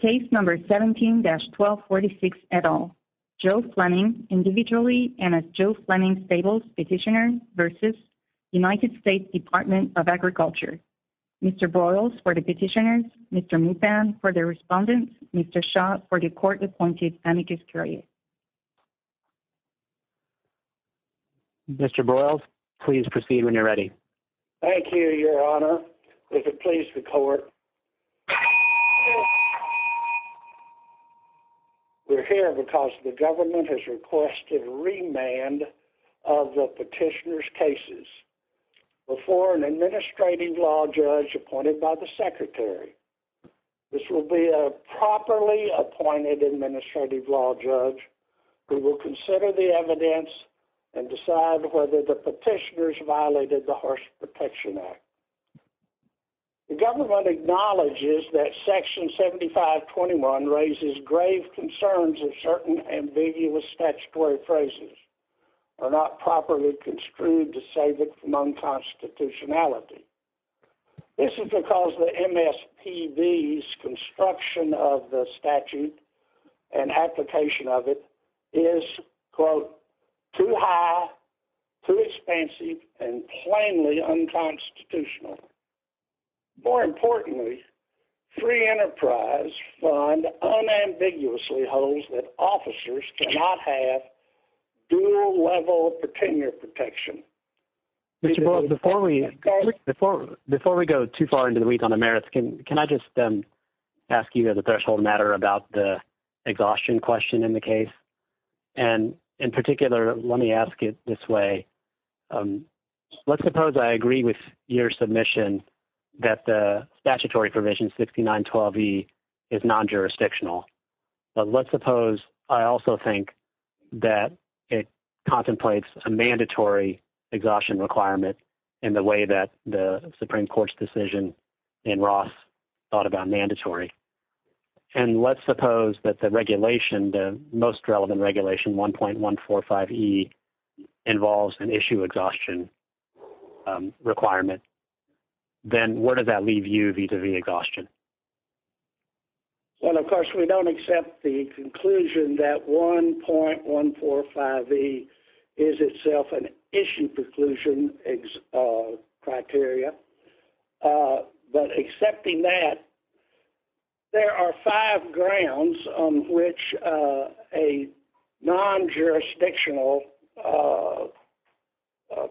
Case number 17-1246 et al. Joe Fleming, Individually, and as Joe Fleming Stables, Petitioner, v. United States Department of Agriculture. Mr. Boyles for the Petitioners, Mr. Mutham for the Respondents, Mr. Shaw for the Court Appointed Amicus Curiae. Mr. Boyles, please proceed when you're ready. Thank you, Your Honor. If it pleases the court, we're here because the government has requested remand of the petitioner's cases before an administrative law judge appointed by the secretary. This will be a properly appointed administrative law judge who will consider the evidence and decide whether the petitioners violated the Horse Protection Act. The government acknowledges that Section 7521 raises grave concerns of certain ambiguous statutory phrases or not properly construed to save it from unconstitutionality. This is because the MSPB's construction of the statute and application of it is, quote, too high, too expensive, and plainly unconstitutional. More importantly, Free Enterprise Fund unambiguously holds that officers cannot have dual-level petitioner protection. Mr. Boyles, before we go too far into the weeds on the merits, can I just ask you as a threshold matter about the exhaustion question in the case? And, in particular, let me ask it this way. Let's suppose I agree with your submission that the statutory provision 6912E is non-jurisdictional. But let's suppose I also think that it contemplates a mandatory exhaustion requirement in the way that the Supreme Court's decision in Ross thought about mandatory. And let's suppose that the regulation, the most relevant regulation, 1.145E, involves an issue exhaustion requirement. Then where does that leave you vis-à-vis exhaustion? Well, of course, we don't accept the conclusion that 1.145E is itself an issue preclusion criteria. But accepting that, there are five grounds on which a non-jurisdictional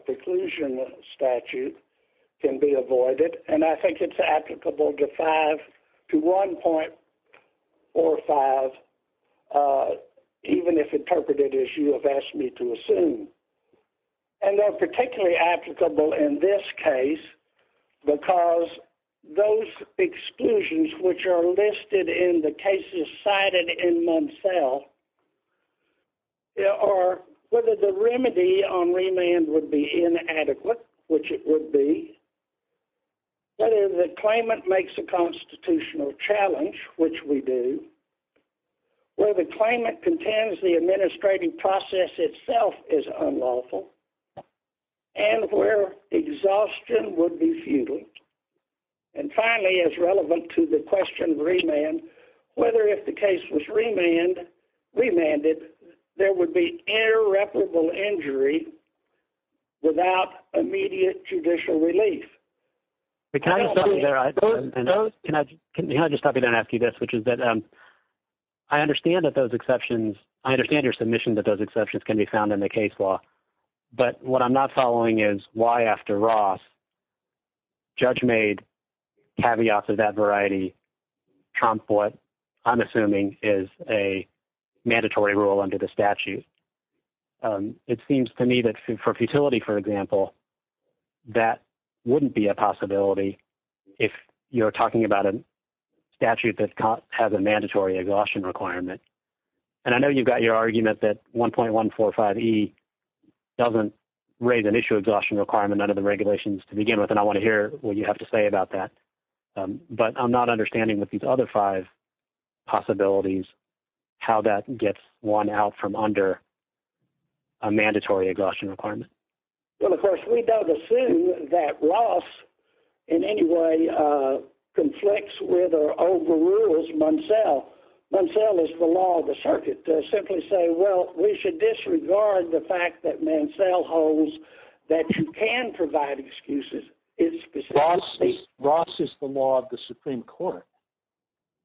preclusion statute can be avoided. And I think it's applicable to 5 to 1.45, even if interpreted as you have asked me to assume. And they're particularly applicable in this case because those exclusions which are listed in the cases cited in Munsell, there are whether the remedy on remand would be inadequate, which it would be, whether the claimant makes a constitutional challenge, which we do, whether the claimant contends the administrative process itself is unlawful, and where exhaustion would be futile. And finally, as relevant to the question of remand, whether if the case was remanded, there would be irreparable injury without immediate judicial relief. Can I just stop you there and ask you this, which is that I understand that those exceptions, I understand your submission that those exceptions can be found in the case law, but what I'm not following is why, after Ross, Judge made caveats of that variety, Trump what I'm assuming is a mandatory rule under the statute. It seems to me that for futility, for example, that wouldn't be a possibility if you're talking about a statute that has a mandatory exhaustion requirement. And I know you've got your argument that 1.145E doesn't raise an issue exhaustion requirement under the regulations to begin with, and I want to hear what you have to say about that. But I'm not understanding with these other five possibilities how that gets one out from under a mandatory exhaustion requirement. Well, of course, we don't assume that Ross in any way conflicts with or overrules Mansell. Mansell is the law of the circuit. To simply say, well, we should disregard the fact that Mansell holds that you can provide excuses. Ross is the law of the Supreme Court.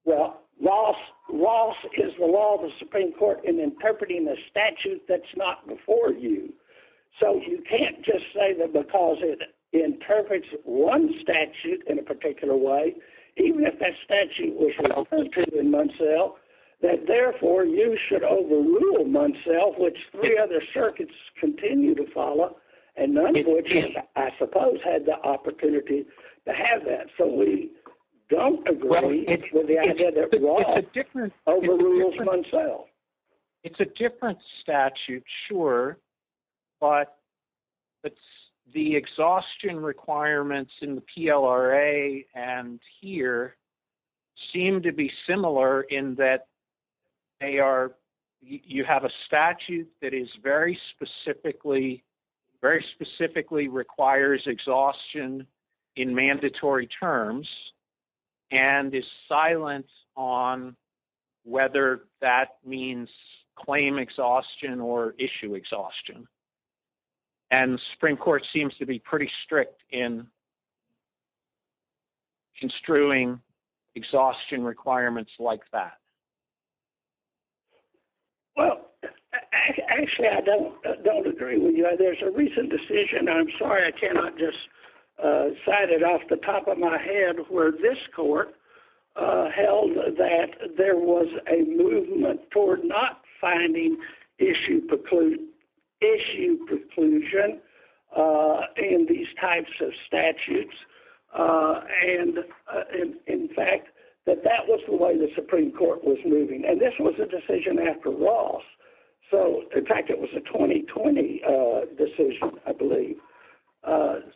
Well, Ross is the law of the Supreme Court in interpreting a statute that's not before you. So you can't just say that because it interprets one statute in a particular way, even if that statute was reverted in Mansell, that therefore you should overrule Mansell, of which three other circuits continue to follow, and none of which I suppose had the opportunity to have that. So we don't agree with the idea that Ross overrules Mansell. It's a different statute, sure. But the exhaustion requirements in the PLRA and here seem to be similar in that you have a statute that very specifically requires exhaustion in mandatory terms and is silent on whether that means claim exhaustion or issue exhaustion. And the Supreme Court seems to be pretty strict in construing exhaustion requirements like that. Well, actually, I don't agree with you. There's a recent decision, and I'm sorry I cannot just cite it off the top of my head, where this court held that there was a movement toward not finding issue preclusion in these types of statutes. And, in fact, that that was the way the Supreme Court was moving. And this was a decision after Ross. So, in fact, it was a 2020 decision, I believe.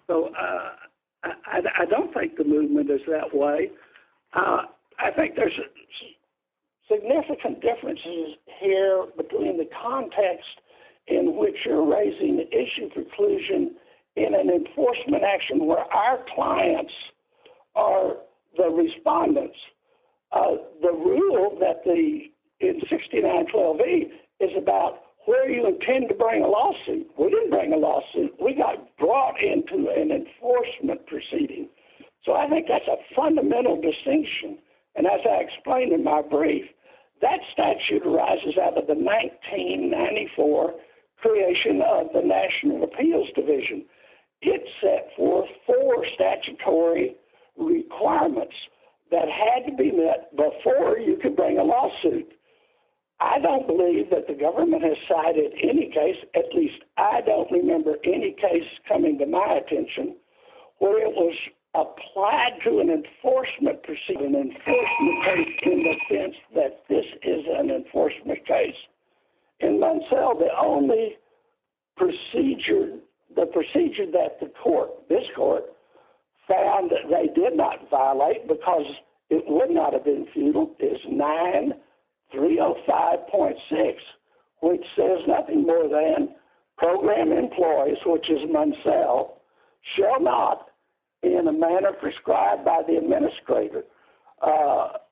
So I don't think the movement is that way. I think there's significant differences here between the context in which you're raising issue preclusion in an enforcement action where our clients are the respondents. The rule in 6912E is about where you intend to bring a lawsuit. We didn't bring a lawsuit. We got brought into an enforcement proceeding. So I think that's a fundamental distinction. And as I explained in my brief, that statute arises out of the 1994 creation of the National Appeals Division. It set forth four statutory requirements that had to be met before you could bring a lawsuit. I don't believe that the government has cited any case, at least I don't remember any case coming to my attention, where it was applied to an enforcement proceeding, an enforcement case in the sense that this is an enforcement case. In Munsell, the only procedure, the procedure that the court, this court, found that they did not violate because it would not have been futile is 9305.6, which says nothing more than program employees, which is Munsell, shall not, in a manner prescribed by the administrator, shall,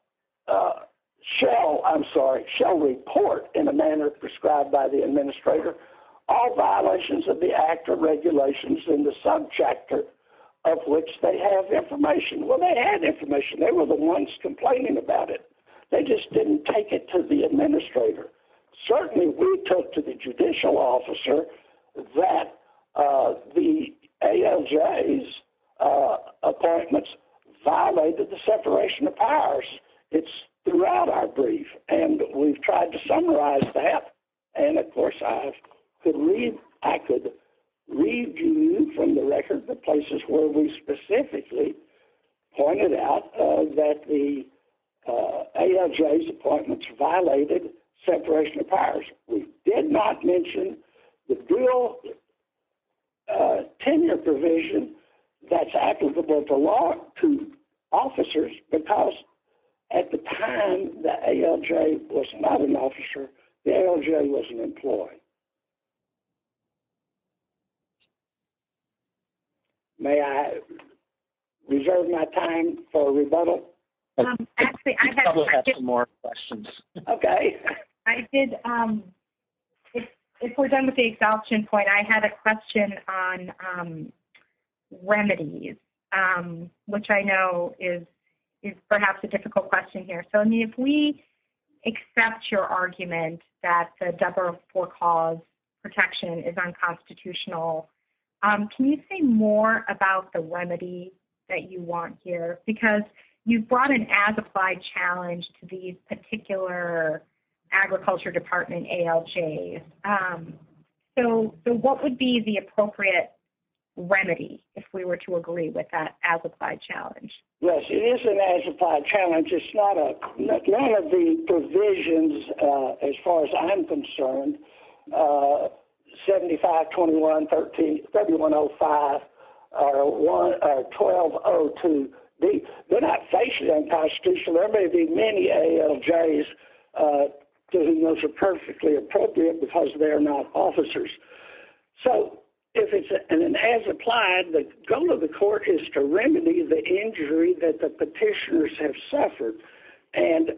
I'm sorry, shall report in a manner prescribed by the administrator all violations of the act or regulations in the sub-chapter of which they have information. Well, they had information. They were the ones complaining about it. They just didn't take it to the administrator. Certainly, we took to the judicial officer that the ALJ's appointments violated the separation of powers. It's throughout our brief, and we've tried to summarize that, and, of course, I could review from the record the places where we specifically pointed out that the ALJ's appointments violated separation of powers. We did not mention the real tenure provision that's applicable to officers because at the time, the ALJ was not an officer. The ALJ was an employee. May I reserve my time for rebuttal? Actually, I have some more questions. Okay. I did. If we're done with the exaltion point, I had a question on remedies, which I know is perhaps a difficult question here. Sonya, if we accept your argument that the DUBRA for-cause protection is unconstitutional, can you say more about the remedy that you want here? Because you brought an as-applied challenge to these particular agriculture department ALJs. So what would be the appropriate remedy if we were to agree with that as-applied challenge? Yes, it is an as-applied challenge. It's not one of the provisions, as far as I'm concerned, 7521 W105 or 1202B. They're not facially unconstitutional. There may be many ALJs to whom those are perfectly appropriate because they're not officers. So if it's an as-applied, the goal of the court is to remedy the injury that the petitioners have suffered. And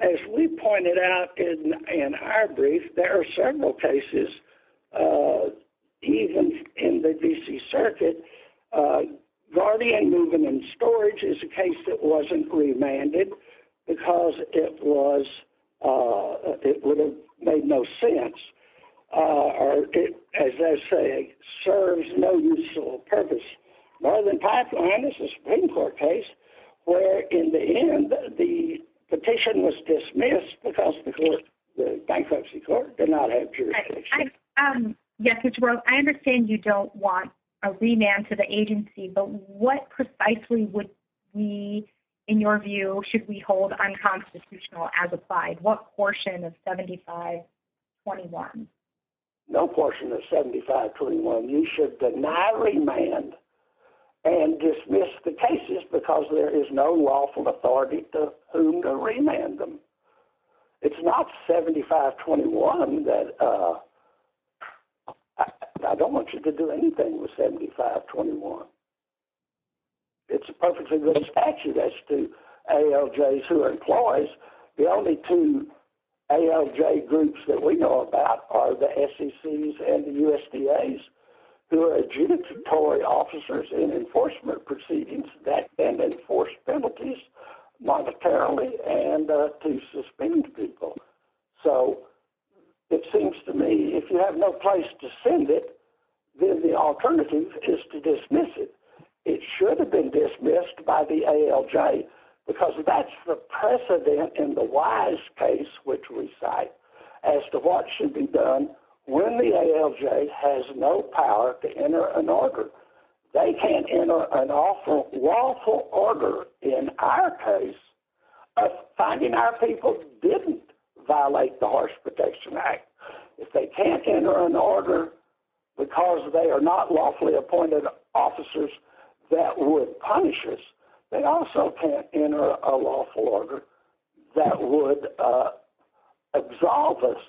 as we pointed out in our brief, there are several cases even in the D.C. Circuit. Guardian moving in storage is a case that wasn't remanded because it would have made no sense, or it, as they say, serves no useful purpose. Northern Pipeline is a Supreme Court case where, in the end, the petition was dismissed because the bankruptcy court did not have jurisdiction. Yes, Ms. Rose, I understand you don't want a remand to the agency, but what precisely would we, in your view, should we hold unconstitutional as-applied? What portion of 7521? No portion of 7521. You should deny remand and dismiss the cases because there is no lawful authority to whom to remand them. It's not 7521 that I don't want you to do anything with 7521. It's a perfectly good statute as to ALJs who are employees. The only two ALJ groups that we know about are the SECs and the USDAs who are adjudicatory officers in enforcement proceedings that then enforce penalties monetarily and to suspend people. It seems to me if you have no place to send it, then the alternative is to dismiss it. It should have been dismissed by the ALJ because that's the precedent in the Wise case, which we cite, as to what should be done when the ALJ has no power to enter an order. They can't enter an lawful order in our case, finding our people didn't violate the Horse Protection Act. If they can't enter an order because they are not lawfully appointed officers that would punish us, they also can't enter a lawful order that would absolve us.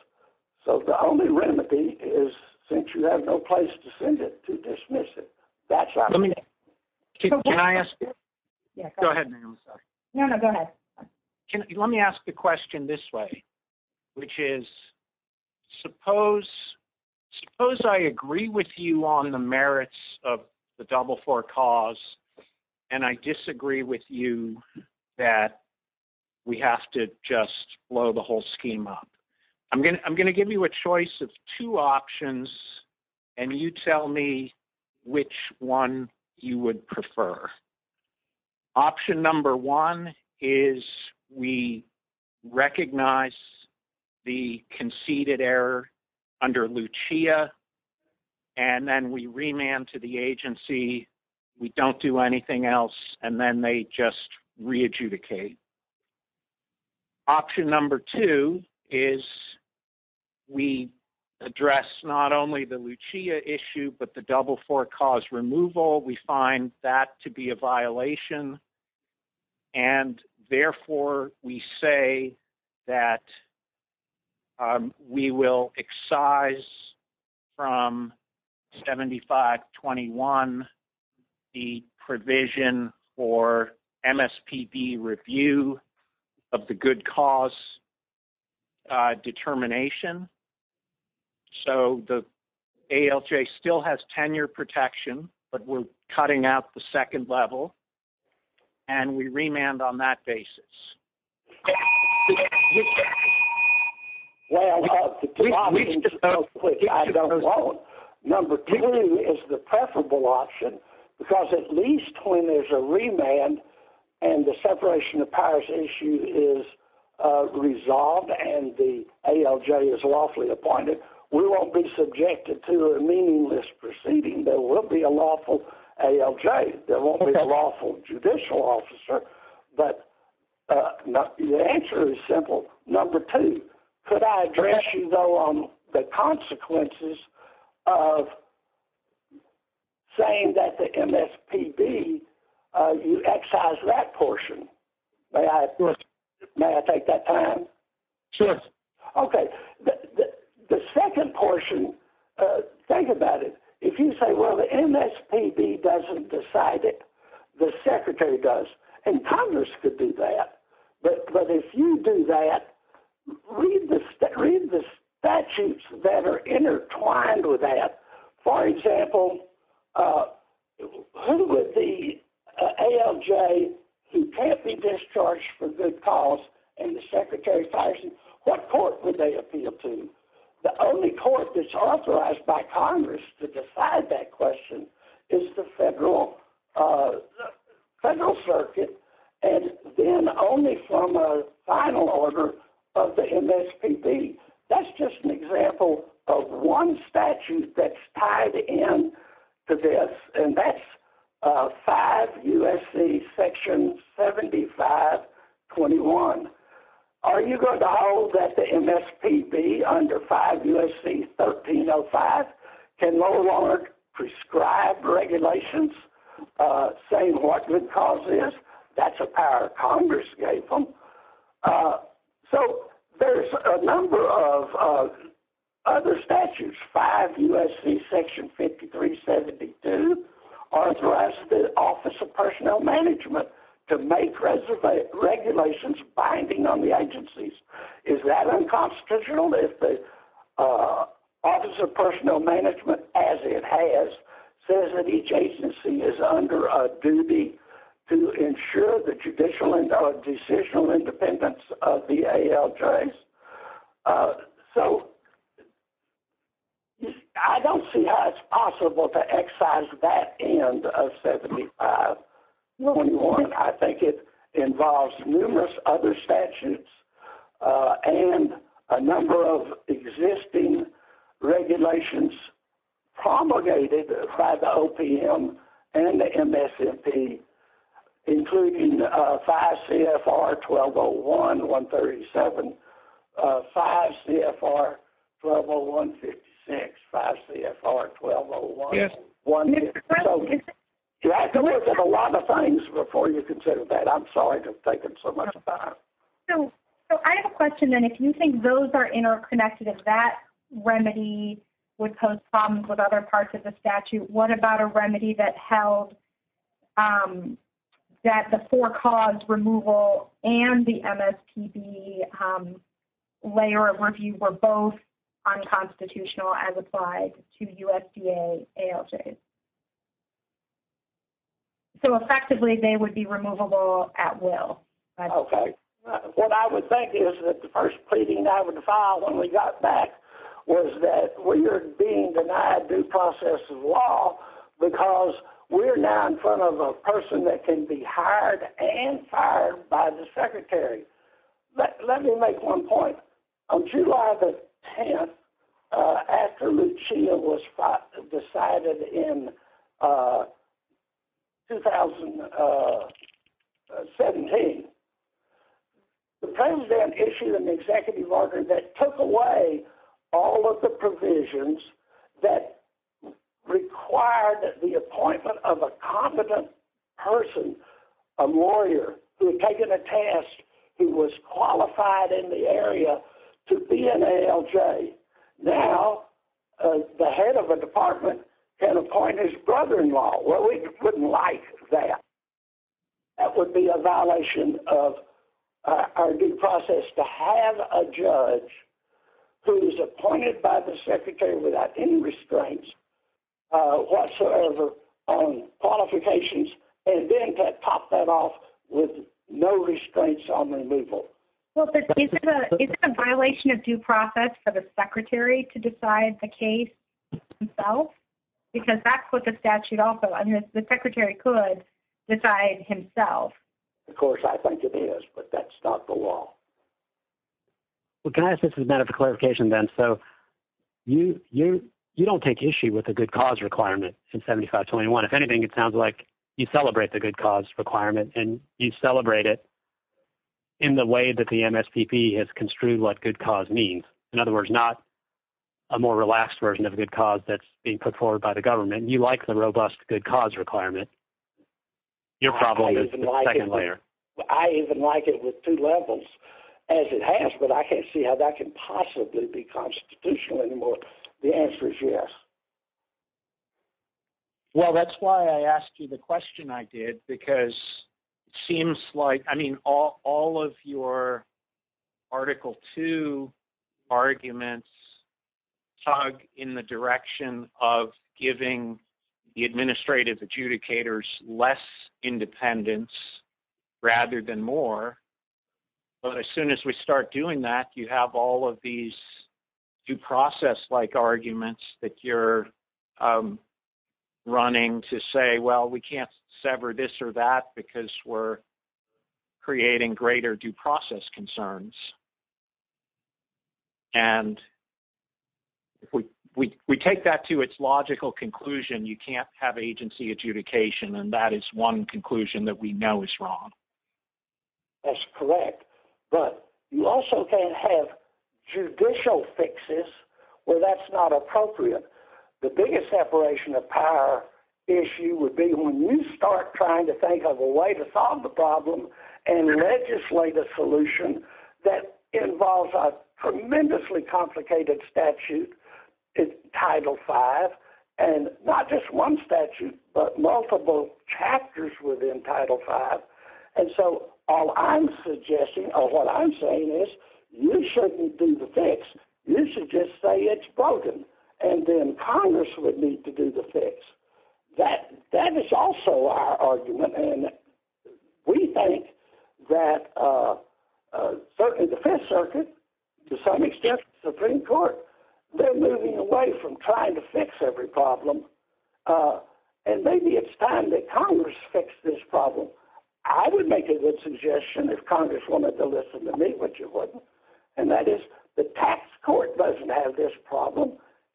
The only remedy is since you have no place to send it, to dismiss it. Let me ask the question this way, which is suppose I agree with you on the merits of the Double IV cause and I disagree with you that we have to just blow the whole scheme up. I'm going to give you a choice of two options and you tell me which one you would prefer. Option number one is we recognize the conceded error under Lucia and then we remand to the agency. We don't do anything else and then they just re-adjudicate. Option number two is we address not only the Lucia issue but the Double IV cause removal. We find that to be a violation and therefore we say that we will excise from 7521 the provision for MSPB review of the good cause determination so the ALJ still has tenure protection but we're cutting out the second level and we remand on that basis. Well, I don't know. Number two is the preferable option because at least when there's a remand and the separation of powers issue is resolved and the ALJ is lawfully appointed, we won't be subjected to a meaningless proceeding. There won't be a lawful ALJ. There won't be a lawful judicial officer but the answer is simple. Number two, could I address you though on the consequences of saying that the MSPB, you excise that portion. May I take that time? Sure. Okay. The second portion, think about it. If you say, well, the MSPB doesn't decide it. The secretary does and Congress could do that but if you do that, read the statutes that are intertwined with that. For example, who would be ALJ who can't be discharged for good cause and the secretary fires him? What court would they appeal to? The only court that's authorized by Congress to decide that question is the federal circuit and then only from a final order of the MSPB. That's just an example of one statute that's tied in to this and that's 5 U.S.C. section 7521. Are you going to hold that the MSPB under 5 U.S.C. 1305 can no longer prescribe regulations saying what good cause is? That's a power Congress gave them. So there's a number of other statutes. 5 U.S.C. section 5372 authorizes the Office of Personnel Management to make regulations binding on the agencies. Is that unconstitutional if the Office of Personnel Management, as it has, says that each agency is under a duty to ensure the judicial and decisional independence of the ALJs? So I don't see how it's possible to excise that end of 7521. I think it involves numerous other statutes and a number of existing regulations promulgated by the OPM and the MSPB, including 5 C.F.R. 1201, 137, 5 C.F.R. 1201, 56, 5 C.F.R. 1201. So you have to look at a lot of things before you consider that. I'm sorry to have taken so much time. So I have a question then. If you think those are interconnected, if that remedy would pose problems with other parts of the statute, what about a remedy that held that the for-cause removal and the MSPB layer of review were both unconstitutional as applied to USDA ALJs? So effectively, they would be removable at will. Okay. What I would think is that the first pleading I would file when we got back was that we're being denied due process of law because we're now in front of a person that can be hired and fired by the Secretary. Let me make one point. On July the 10th, after Lucia was decided in 2017, the court then issued an executive order that took away all of the provisions that required the appointment of a competent person, a lawyer, who had taken a task, who was qualified in the area to be an ALJ. Now, the head of a department can appoint his brother-in-law. Well, we wouldn't like that. That would be a violation of our due process to have a judge who is appointed by the Secretary without any restraints whatsoever on qualifications and then to pop that off with no restraints on removal. Well, is it a violation of due process for the Secretary to decide the case himself? Because that's what the statute also is. The Secretary could decide himself. Of course, I think it is, but that's not the law. Well, guys, this is not a clarification then. So you don't take issue with the good cause requirement in 7521. If anything, it sounds like you celebrate the good cause requirement and you celebrate it in the way that the MSPP has construed what good cause means. In other words, not a more relaxed version of good cause that's being put forward by the government. You like the robust good cause requirement. Your problem is the second layer. I even like it with two levels as it has, but I can't see how that can possibly be constitutional anymore. The answer is yes. Well, that's why I asked you the question I did, because it seems like, I mean, all of your Article II arguments tug in the direction of giving the administrative adjudicators less independence rather than more. But as soon as we start doing that, you have all of these due process-like arguments that you're running to say, well, we can't sever this or that because we're creating greater due process concerns. And we take that to its logical conclusion. You can't have agency adjudication, and that is one conclusion that we know is wrong. That's correct. But you also can't have judicial fixes where that's not appropriate. The biggest separation of power issue would be when you start trying to think of a way to solve the problem and legislate a solution that involves a tremendously complicated statute, Title V, and not just one statute but multiple chapters within Title V. And so all I'm suggesting or what I'm saying is you shouldn't do the fix. You should just say it's broken, and then Congress would need to do the fix. That is also our argument, and we think that certainly the Fifth Circuit, to some extent the Supreme Court, they're moving away from trying to fix every problem, and maybe it's time that Congress fix this problem. I would make a good suggestion if Congress wanted to listen to me, which it wouldn't, and that is the tax court doesn't have this problem.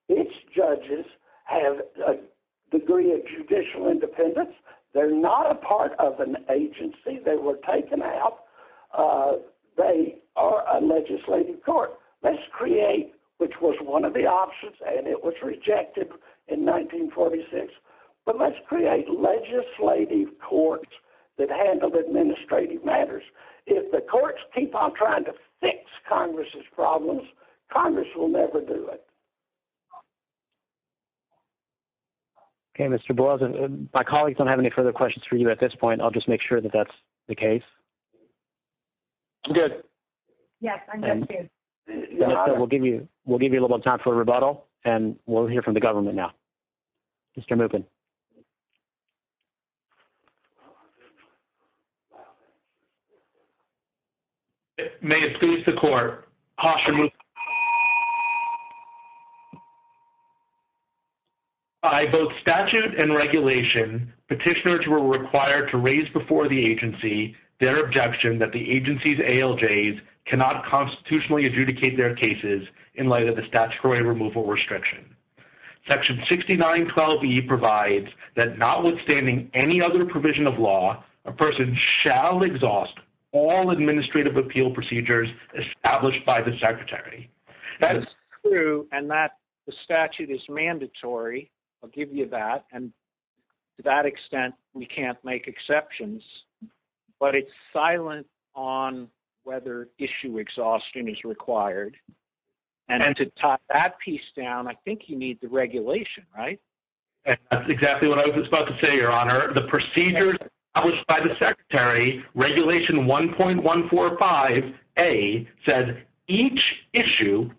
Its judges have a degree of judicial independence. They're not a part of an agency. They were taken out. They are a legislative court. Let's create, which was one of the options, and it was rejected in 1946, but let's create legislative courts. Let's handle administrative matters. If the courts keep on trying to fix Congress's problems, Congress will never do it. Okay, Mr. Boyles, my colleagues don't have any further questions for you at this point. I'll just make sure that that's the case. I'm good. Yes, I'm good, too. We'll give you a little bit of time for a rebuttal, and we'll hear from the government now. Mr. Mookin. May it please the Court, caution was... By both statute and regulation, petitioners were required to raise before the agency their objection that the agency's ALJs cannot constitutionally adjudicate their cases in light of the statutory removal restriction. Section 6912E provides that notwithstanding any other provision of law, a person shall exhaust all administrative appeal procedures established by the Secretary. That is true, and the statute is mandatory. I'll give you that, and to that extent, we can't make exceptions. But it's silent on whether issue exhaustion is required, and to top that piece down, I think you need the regulation, right? That's exactly what I was about to say, Your Honor. Where the procedures established by the Secretary, regulation 1.145A, said each issue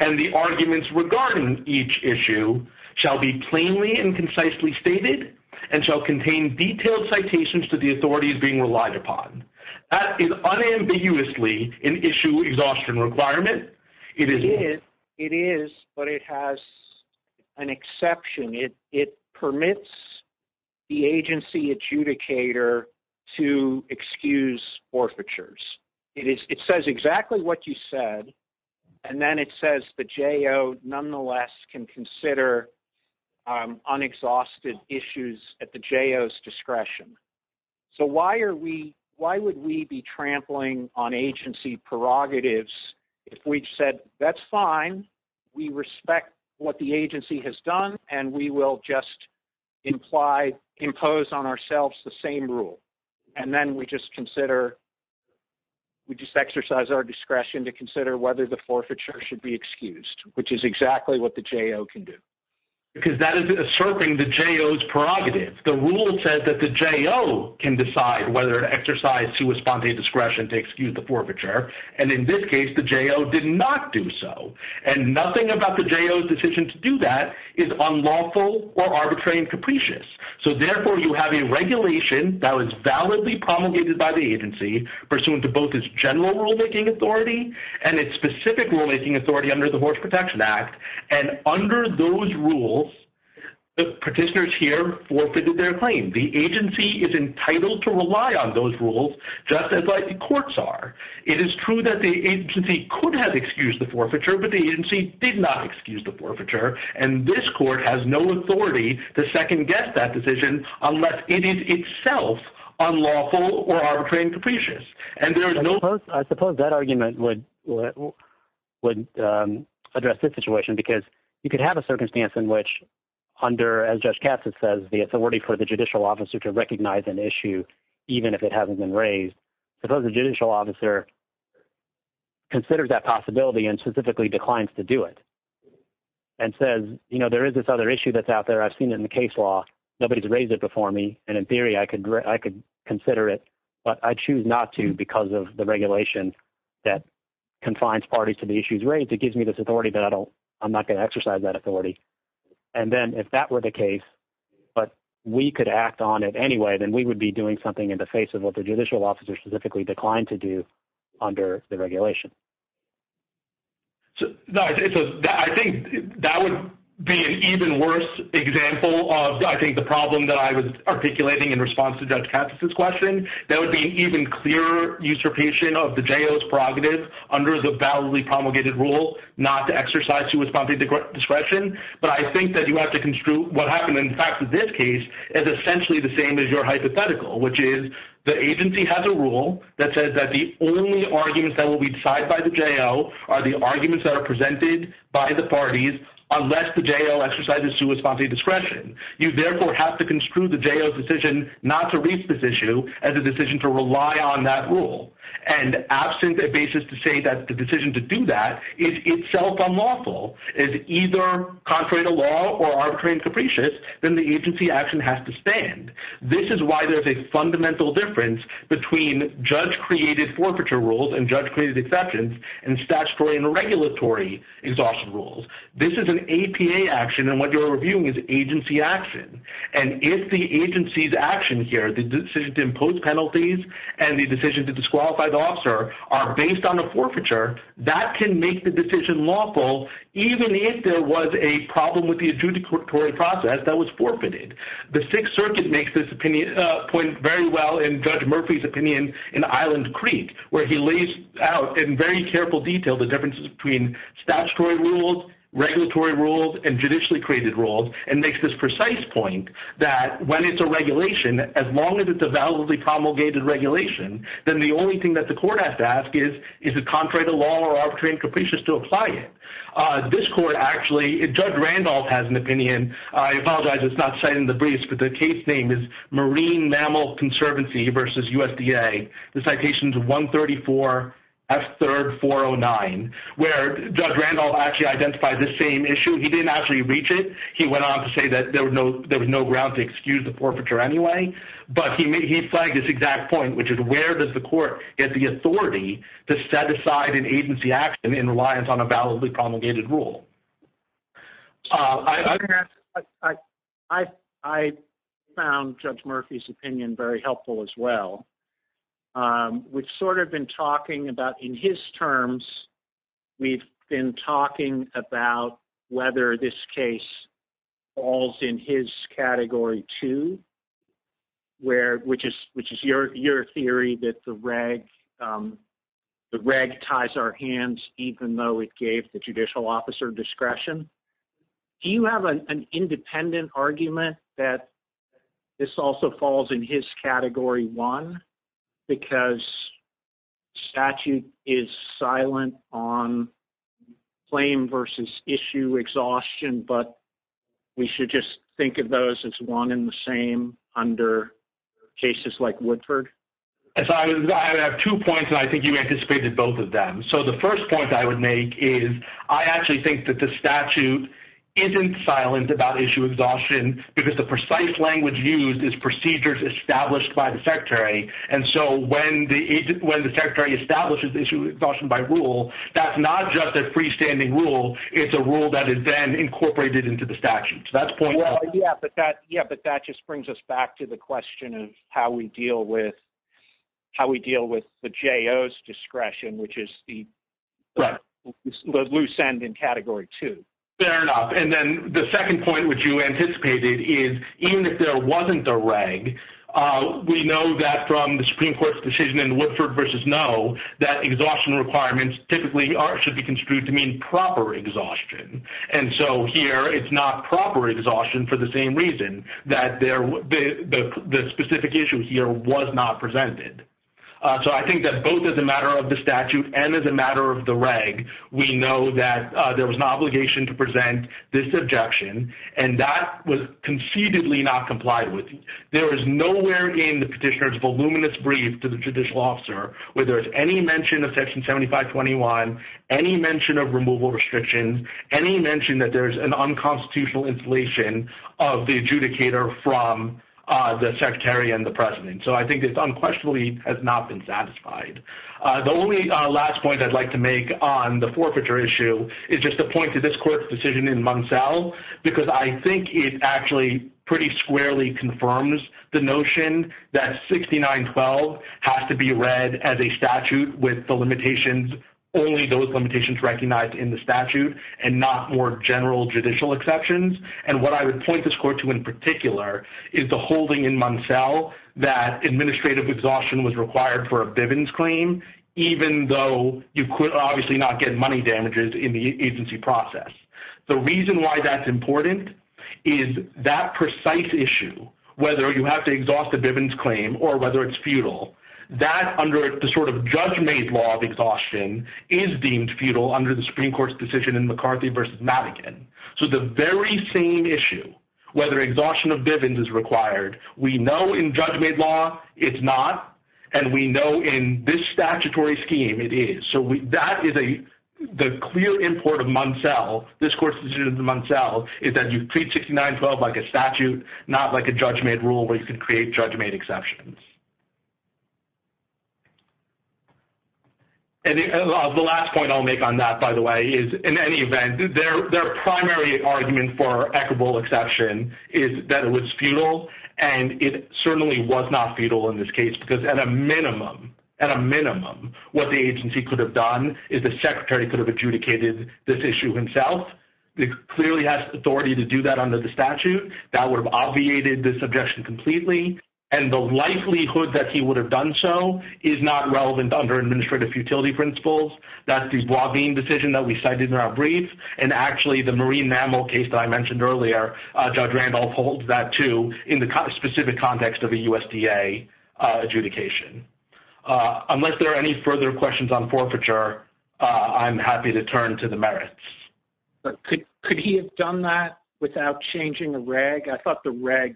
and the arguments regarding each issue shall be plainly and concisely stated and shall contain detailed citations to the authorities being relied upon. That is unambiguously an issue exhaustion requirement. It is, but it has an exception. It permits the agency adjudicator to excuse forfeitures. It says exactly what you said, and then it says the J.O. nonetheless can consider unexhausted issues at the J.O.'s discretion. So why would we be trampling on agency prerogatives if we said that's fine, we respect what the agency has done, and we will just impose on ourselves the same rule? And then we just consider, we just exercise our discretion to consider whether the forfeiture should be excused, which is exactly what the J.O. can do. Because that is asserting the J.O.'s prerogatives. The rule says that the J.O. can decide whether to exercise to a spontaneous discretion to excuse the forfeiture, and in this case, the J.O. did not do so. And nothing about the J.O.'s decision to do that is unlawful or arbitrary and capricious. So therefore, you have a regulation that was validly promulgated by the agency, pursuant to both its general rulemaking authority and its specific rulemaking authority under the Horse Protection Act. And under those rules, the petitioners here forfeited their claim. The agency is entitled to rely on those rules, just as likely courts are. It is true that the agency could have excused the forfeiture, but the agency did not excuse the forfeiture. And this court has no authority to second-guess that decision unless it is itself unlawful or arbitrary and capricious. And there is no— I suppose that argument would address this situation because you could have a circumstance in which under, as Judge Katz had said, the authority for the judicial officer to recognize an issue, even if it hasn't been raised. Suppose the judicial officer considers that possibility and specifically declines to do it. And says, you know, there is this other issue that's out there. I've seen it in the case law. Nobody's raised it before me. And in theory, I could consider it, but I choose not to because of the regulation that confines parties to the issues raised. It gives me this authority, but I'm not going to exercise that authority. And then if that were the case, but we could act on it anyway, then we would be doing something in the face of what the judicial officer specifically declined to do under the regulation. So, no, I think that would be an even worse example of, I think, the problem that I was articulating in response to Judge Katz's question. That would be an even clearer usurpation of the J.O.'s prerogative under the validly promulgated rule not to exercise to his property discretion. But I think that you have to construe what happened, in fact, in this case is essentially the same as your hypothetical, which is the agency has a rule that says that the only arguments that will be decided by the J.O. are the arguments that are presented by the parties, unless the J.O. exercises to his property discretion. You, therefore, have to construe the J.O.'s decision not to raise this issue as a decision to rely on that rule. And absent a basis to say that the decision to do that is itself unlawful, is either contrary to law or arbitrary and capricious, then the agency action has to stand. This is why there's a fundamental difference between judge-created forfeiture rules and judge-created exceptions and statutory and regulatory exhaustion rules. This is an APA action, and what you're reviewing is agency action. And if the agency's action here, the decision to impose penalties and the decision to disqualify the officer are based on a forfeiture, that can make the decision lawful even if there was a problem with the adjudicatory process that was forfeited. The Sixth Circuit makes this point very well in Judge Murphy's opinion in Island Creek, where he lays out in very careful detail the differences between statutory rules, regulatory rules, and judicially-created rules, and makes this precise point that when it's a regulation, as long as it's a validly promulgated regulation, then the only thing that the court has to ask is, is it contrary to law or arbitrary and capricious to apply it? This court actually, Judge Randolph has an opinion. I apologize it's not cited in the briefs, but the case name is Marine Mammal Conservancy v. USDA, the citations 134 F. 3rd 409, where Judge Randolph actually identified the same issue. He didn't actually reach it. He went on to say that there was no ground to excuse the forfeiture anyway, but he cited this exact point, which is where does the court get the authority to set aside an agency action in reliance on a validly promulgated rule? I found Judge Murphy's opinion very helpful as well. We've sort of been talking about, in his terms, we've been talking about whether this case falls in his Category 2, which is your theory that the reg ties our hands even though it gave the judicial officer discretion. Do you have an independent argument that this also falls in his Category 1 because statute is silent on claim versus issue exhaustion, but we should just think of those as one and the same under cases like Woodford? I have two points, and I think you anticipated both of them. The first point I would make is I actually think that the statute isn't silent about issue exhaustion because the precise language used is procedures established by the Secretary, and so when the Secretary establishes issue exhaustion by rule, that's not just a freestanding rule. It's a rule that is then incorporated into the statute, so that's point one. Yeah, but that just brings us back to the question of how we deal with the J.O.'s discretion, which is the loose end in Category 2. Fair enough, and then the second point, which you anticipated, is even if there wasn't a reg, we know that from the Supreme Court's decision in Woodford v. No, that exhaustion requirements typically should be construed to mean proper exhaustion, and so here it's not proper exhaustion for the same reason, that the specification here was not presented. So I think that both as a matter of the statute and as a matter of the reg, we know that there was an obligation to present this objection, and that was conceivably not complied with. There is nowhere in the petitioner's voluminous brief to the judicial officer where there's any mention of Section 7521, any mention of removal restrictions, any mention that there's an unconstitutional installation of the adjudicator from the secretary and the president. So I think it unquestionably has not been satisfied. The only last point I'd like to make on the forfeiture issue is just to point to this court's decision in Munsell, because I think it actually pretty squarely confirms the notion that 6912 has to be read as a statute with the limitations, only those limitations recognized in the statute and not more general judicial exceptions, and what I would point this court to in particular is the holding in Munsell that administrative exhaustion was required for a Bivens claim, even though you could obviously not get money damages in the agency process. The reason why that's important is that precise issue, whether you have to exhaust the Bivens claim or whether it's futile, that under the sort of judge-made law of exhaustion is deemed futile under the Supreme Court's decision in McCarthy v. Madigan. So the very same issue, whether exhaustion of Bivens is required, we know in judge-made law it's not, and we know in this statutory scheme it is. So that is a clear import of Munsell, this court's decision in Munsell, is that you treat 6912 like a statute, not like a judge-made rule where you can create judge-made exceptions. And the last point I'll make on that, by the way, is in any event, their primary argument for equitable exception is that it was futile, and it certainly was not futile in this case because at a minimum, at a minimum, what the agency could have done is the secretary could have adjudicated this issue himself. It clearly has authority to do that under the statute. That would have obviated this objection completely. And the likelihood that he would have done so is not relevant under administrative futility principles. That's the Blavine decision that we cited in our brief. And actually, the Marine Mammal case that I mentioned earlier, Judge Randolph holds that too in the specific context of a USDA adjudication. Unless there are any further questions on forfeiture, I'm happy to turn to the merits. But could he have done that without changing the reg? I thought the regs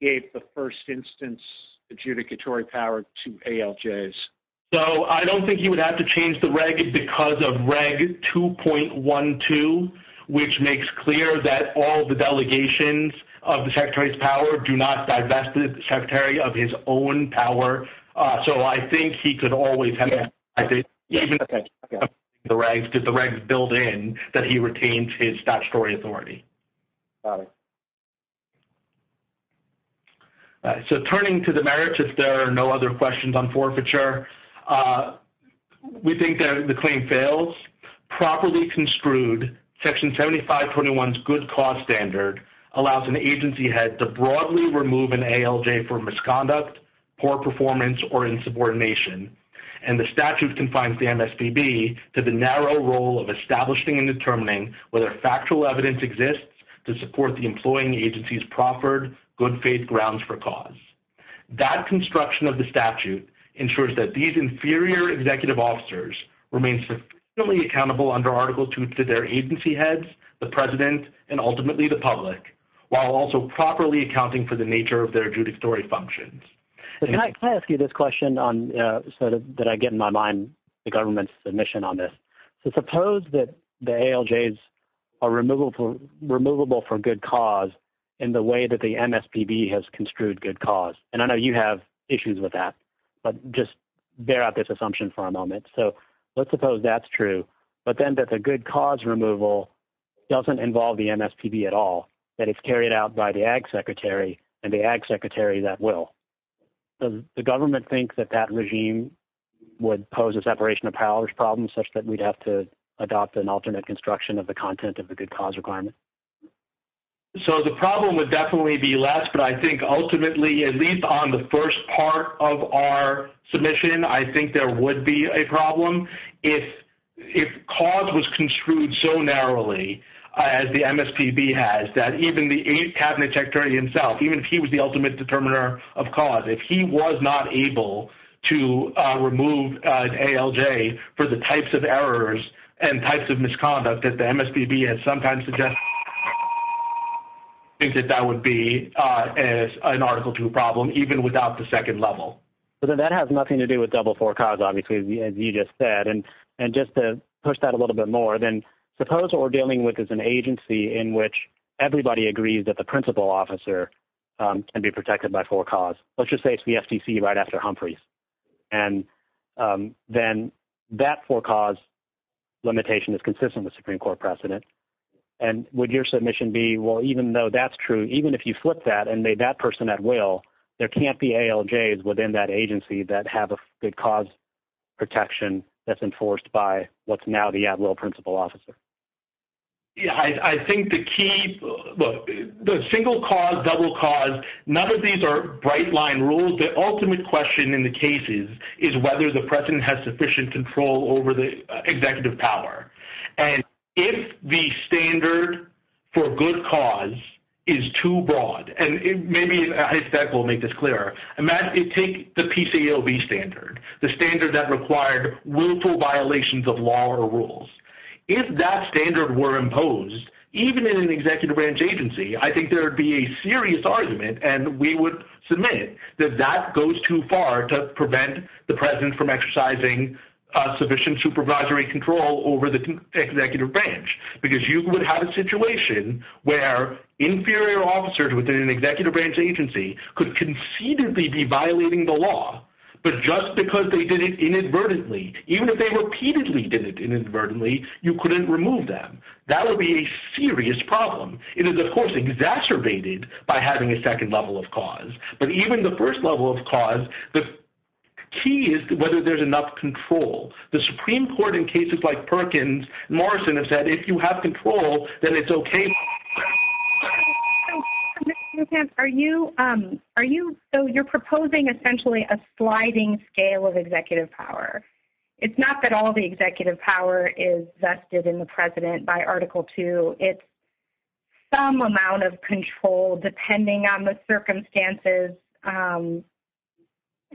gave the first instance adjudicatory power to ALJs. So I don't think he would have to change the reg because of Reg 2.12, which makes clear that all the delegations of the secretary's power do not divest the secretary of his own power. So I think he could always have done that. Even if he didn't change the regs, did the regs build in that he retained his statutory authority? Got it. So turning to the merits, if there are no other questions on forfeiture, we think the claim fails. Properly construed, Section 7521's good cause standard allows an agency head to broadly remove an ALJ for misconduct, poor performance, or insubordination. And the statute confines the MSPB to the narrow role of establishing and determining whether factual evidence exists to support the employing agency's proffered good faith grounds for cause. That construction of the statute ensures that these inferior executive officers remain sufficiently accountable under Article 2 to their agency heads, the president, and ultimately the public, while also properly accounting for the nature of their adjudicatory functions. Can I ask you this question so that I get in my mind the government's submission on this? So suppose that the ALJs are removable for good cause in the way that the MSPB has construed good cause. And I know you have issues with that, but just bear out this assumption for a moment. So let's suppose that's true, but then that the good cause removal doesn't involve the MSPB at all, that it's carried out by the ag secretary and the ag secretary that will. Does the government think that that regime would pose a separation of powers problem such that we'd have to adopt an ultimate construction of the content of the good cause requirement? So the problem would definitely be less, but I think ultimately, at least on the first part of our submission, I think there would be a problem. If cause was construed so narrowly as the MSPB has, that even the ag cabinet secretary himself, even if he was the ultimate determiner of cause, if he was not able to remove ALJ for the types of errors and types of misconduct that the MSPB has sometimes suggested, I think that that would be an Article II problem, even without the second level. But then that has nothing to do with double for cause, obviously, as you just said. And just to push that a little bit more, then suppose what we're dealing with is an agency in which everybody agrees that the principal officer can be protected by for cause. Let's just say it's the FCC right after Humphreys. And then that for cause limitation is consistent with Supreme Court precedent. And would your submission be, well, even though that's true, even if you flip that and made that person at will, there can't be ALJs within that agency that have a good cause protection that's enforced by what's now the at will principal officer. Yeah, I think the key, the single cause, double cause, none of these are bright line rules. The ultimate question in the cases is whether the precedent has sufficient control over the executive power. And if the standard for good cause is too broad, and maybe I said we'll make this clearer, imagine you take the PCAOB standard, the standard that required willful violations of law or rules. If that standard were imposed, even in an executive branch agency, I think there would be a serious argument, and we would submit that that goes too far to prevent the president from exercising sufficient supervisory control over the executive branch. Because you would have a situation where inferior officers within an executive branch agency could concededly be violating the law, but just because they did it inadvertently, even if they repeatedly did it inadvertently, you couldn't remove them. That would be a serious problem. It is, of course, exacerbated by having a second level of cause. But even the first level of cause, the key is whether there's enough control. The Supreme Court in cases like Perkins, Morrison has said if you have control, then it's okay. Ms. Nussbaum, so you're proposing essentially a sliding scale of executive power. It's not that all the executive power is vested in the president by Article II. It's some amount of control depending on the circumstances,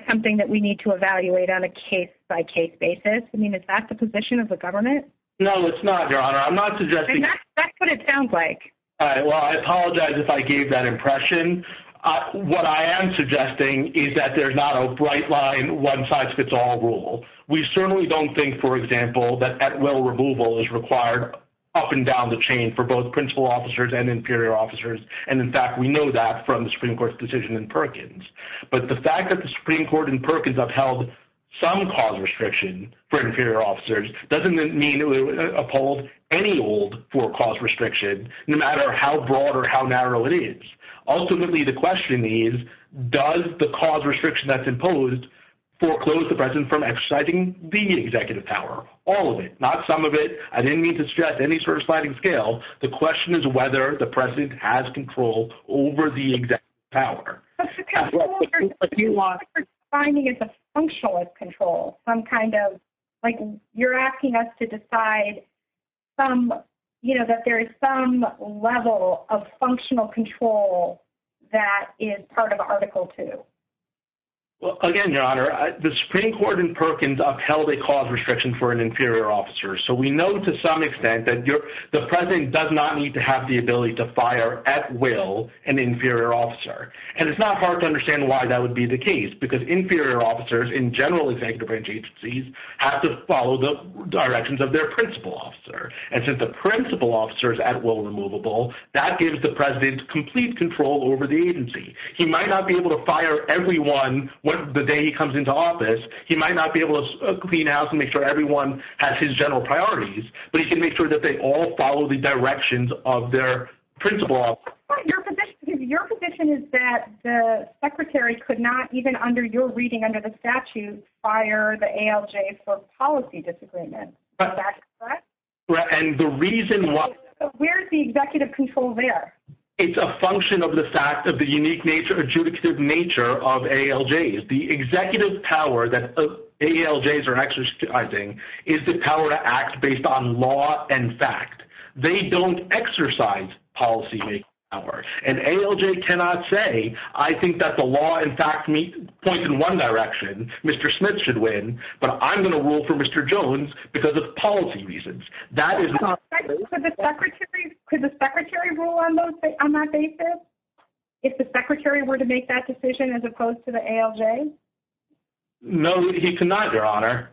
something that we need to evaluate on a case-by-case basis. I mean, is that the position of the government? No, it's not, Your Honor. I'm not suggesting. That's what it sounds like. Well, I apologize if I gave that impression. What I am suggesting is that there's not a bright line, one-size-fits-all rule. We certainly don't think, for example, that at-will removal is required up and down the chain for both principal officers and inferior officers. And, in fact, we know that from the Supreme Court's decision in Perkins. But the fact that the Supreme Court in Perkins upheld some cause restriction for inferior officers doesn't immediately uphold any old cause restriction, no matter how broad or how narrow it is. Ultimately, the question is, does the cause restriction that's imposed foreclose the president from exercising the executive power? All of it, not some of it. I didn't mean to suggest any sort of sliding scale. The question is whether the president has control over the executive power. What we're finding is a functionalist control, some kind of, like you're asking us to decide that there is some level of functional control that is part of Article 2. Well, again, Your Honor, the Supreme Court in Perkins upheld a cause restriction for an inferior officer. So we know to some extent that the president does not need to have the ability to fire, at will, an inferior officer. And it's not hard to understand why that would be the case. Because inferior officers, in general executive agencies, have to follow the directions of their principal officer. And since the principal officer is at will removable, that gives the president complete control over the agency. He might not be able to fire everyone the day he comes into office. He might not be able to clean house and make sure everyone has his general priorities. But he can make sure that they all follow the directions of their principal officer. Your position is that the secretary could not, even under your reading under the statute, fire the ALJs for policy disagreement. Is that correct? And the reason why... Where's the executive control there? It's a function of the fact of the unique nature, adjudicative nature of ALJs. The executive power that ALJs are exercising is the power to act based on law and fact. They don't exercise policy makeover. And ALJ cannot say, I think that the law and fact point in one direction, Mr. Smith should win, but I'm going to rule for Mr. Jones because of policy reasons. That is not... Could the secretary rule on that basis? If the secretary were to make that decision as opposed to the ALJ? No, he could not, Your Honor.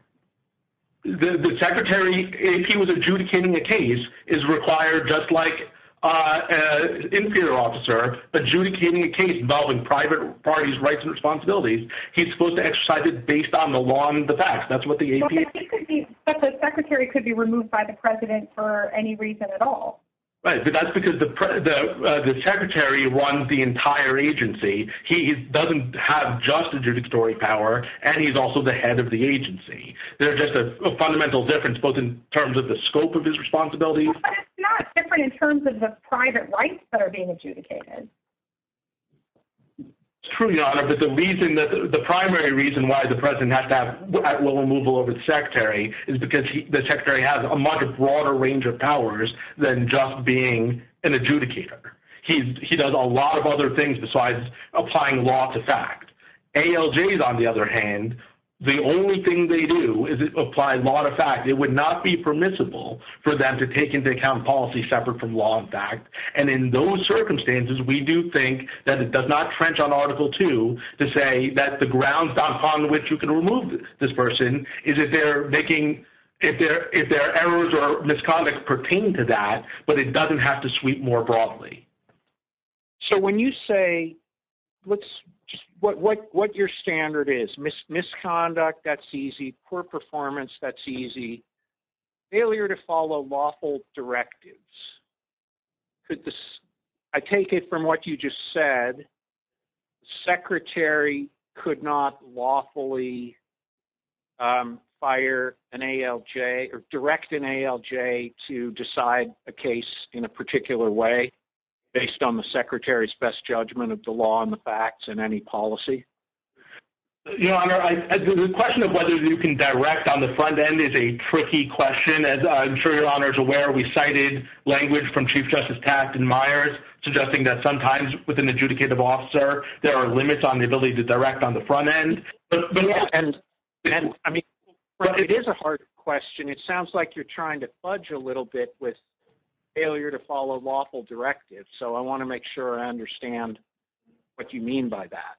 The secretary, if he was adjudicating a case, is required, just like an inferior officer, adjudicating a case involving private parties' rights and responsibilities, he's supposed to exercise it based on the law and the facts. That's what the APA... But the secretary could be removed by the president for any reason at all. Right, but that's because the secretary runs the entire agency. He doesn't have just adjudicatory power, and he's also the head of the agency. They're just a fundamental difference, both in terms of the scope of his responsibilities... But it's not different in terms of the private rights that are being adjudicated. It's true, Your Honor, but the reason that... The primary reason why the president has to have at-will removal of his secretary is because the secretary has a much broader range of powers than just being an adjudicator. He does a lot of other things besides applying law to fact. ALJs, on the other hand, the only thing they do is apply law to fact. It would not be permissible for them to take into account policy separate from law and fact, and in those circumstances, we do think that it does not trench on Article 2 to say that the grounds upon which you can remove this person is if their errors or misconduct pertain to that, but it doesn't have to sweep more broadly. So when you say... What your standard is, misconduct, that's easy. Poor performance, that's easy. Failure to follow lawful directives. I take it from what you just said, the secretary could not lawfully fire an ALJ or direct an ALJ to decide a case in a particular way based on the secretary's best judgment of the law and the facts and any policy? Your Honor, the question of whether you can direct on the front end is a tricky question. As I'm sure Your Honor is aware, we cited language from Chief Justice Taft and Myers suggesting that sometimes with an adjudicative officer, there are limits on the ability to direct on the front end. Yes, and I mean, it is a hard question. It sounds like you're trying to fudge a little bit with failure to follow lawful directives, so I want to make sure I understand what you mean by that.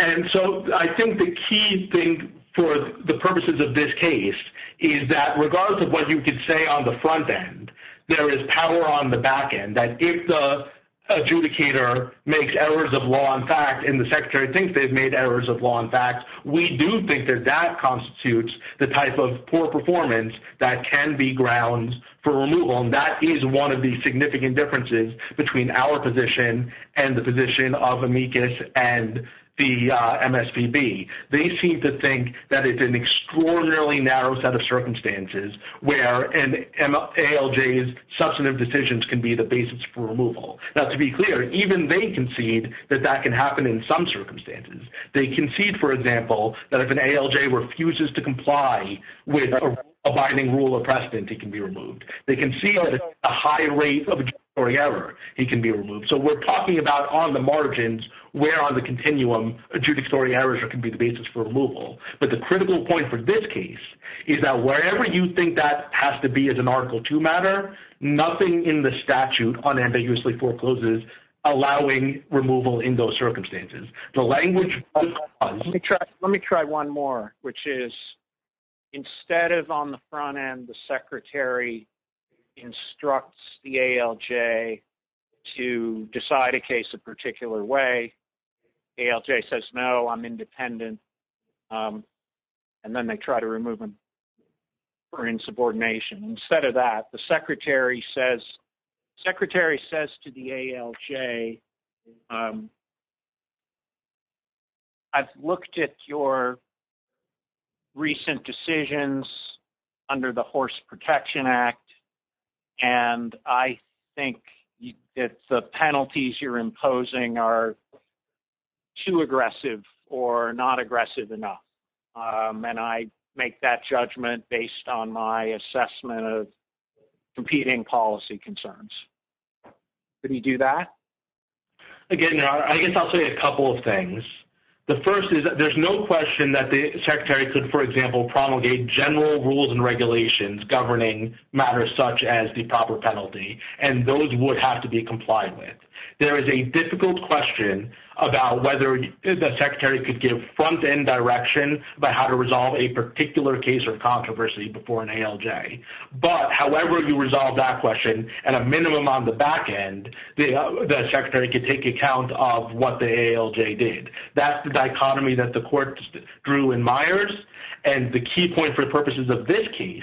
And so I think the key thing for the purposes of this case is that regardless of what you can say on the front end, there is power on the back end, that if the adjudicator makes errors of law and fact and the secretary thinks they've made errors of law and fact, we do think that that constitutes the type of poor performance that can be grounds for removal. And that is one of the significant differences between our position and the position of amicus and the MSPB. They seem to think that it's an extraordinarily narrow set of circumstances where an ALJ's substantive decisions can be the basis for removal. Now, to be clear, even they concede that that can happen in some circumstances. They concede, for example, that if an ALJ refuses to comply with a binding rule of precedent, he can be removed. They concede that at a high rate of adjudicatory error, he can be removed. So we're talking about on the margins where on the continuum adjudicatory errors can be the basis for removal. But the critical point for this case is that wherever you think that has to be as an Article II matter, nothing in the statute unambiguously forecloses allowing removal in those circumstances. The language of the clause— Let me try one more, which is instead of on the front end, the secretary instructs the ALJ to decide a case a particular way, ALJ says, no, I'm independent, and then they try to remove him for insubordination. Instead of that, the secretary says to the ALJ, I've looked at your recent decisions under the Horse Protection Act, and I think that the penalties you're imposing are too aggressive or not aggressive enough. And I make that judgment based on my assessment of competing policy concerns. Could he do that? Again, I guess I'll say a couple of things. The first is that there's no question that the secretary could, for example, promulgate general rules and regulations governing matters such as the proper penalty, and those would have to be complied with. There is a difficult question about whether the secretary could give front-end direction about how to resolve a particular case or controversy before an ALJ. But however you resolve that question, at a minimum on the back end, the secretary could take account of what the ALJ did. That's the dichotomy that the court drew in Myers, and the key point for the purposes of this case,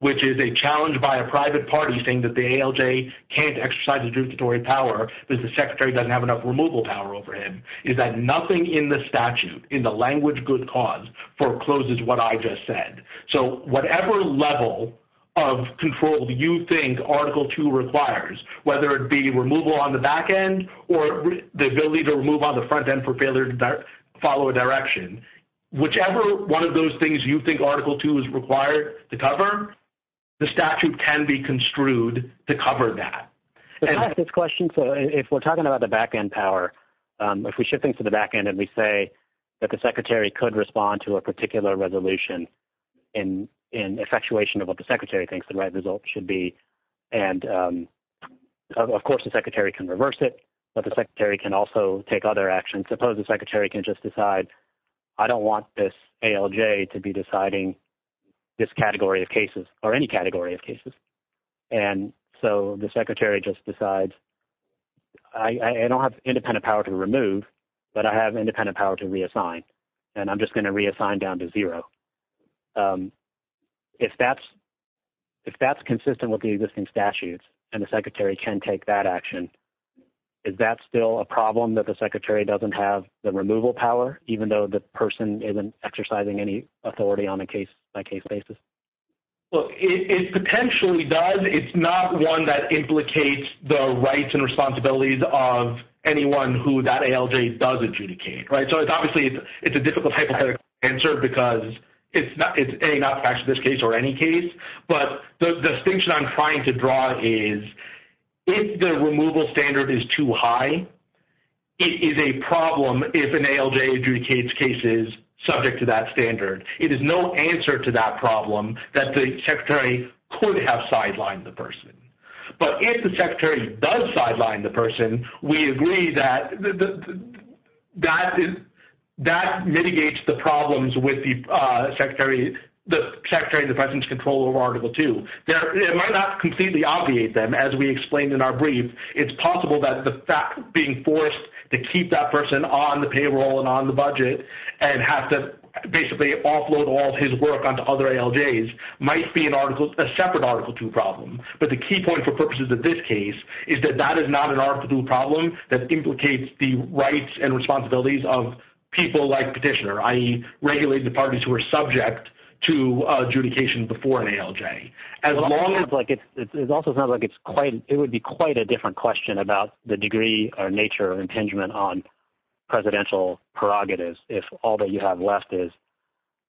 which is a challenge by a private party saying that the ALJ can't exercise adjudicatory power because the secretary doesn't have enough removal power over him, is that nothing in the statute, in the language good cause, forecloses what I just said. So whatever level of control you think Article 2 requires, whether it be removal on the back end or the ability to remove on the front end for failure to follow a direction, whichever one of those things you think Article 2 is required to cover, the statute can be construed to cover that. If we're talking about the back end power, if we shift things to the back end and we say that the secretary could respond to a particular resolution in effectuation of what the secretary thinks the right result should be, and of course the secretary can reverse it, but the secretary can also take other actions. Let's suppose the secretary can just decide I don't want this ALJ to be deciding this category of cases or any category of cases, and so the secretary just decides I don't have independent power to remove, but I have independent power to reassign, and I'm just going to reassign down to zero. If that's consistent with the existing statutes and the secretary can take that action, is that still a problem that the secretary doesn't have the removal power, even though the person isn't exercising any authority on a case-by-case basis? It potentially does. It's not one that implicates the rights and responsibilities of anyone who that ALJ does adjudicate. So obviously it's a difficult hypothetical answer because it's not facts in this case or any case, but the distinction I'm trying to draw is if the removal standard is too high, it is a problem if an ALJ adjudicates cases subject to that standard. It is no answer to that problem that the secretary could have sidelined the person. But if the secretary does sideline the person, we agree that that mitigates the problems with the secretary and the president's control over Article 2. It might not completely obviate them, as we explained in our brief. It's possible that the fact of being forced to keep that person on the payroll and on the budget and have to basically offload all of his work onto other ALJs might be a separate Article 2 problem. But the key point for purposes of this case is that that is not an Article 2 problem that implicates the rights and responsibilities of people like Petitioner, i.e. regulated parties who are subject to adjudication before an ALJ. It also sounds like it would be quite a different question about the degree or nature or intingement on presidential prerogatives if all that you have left is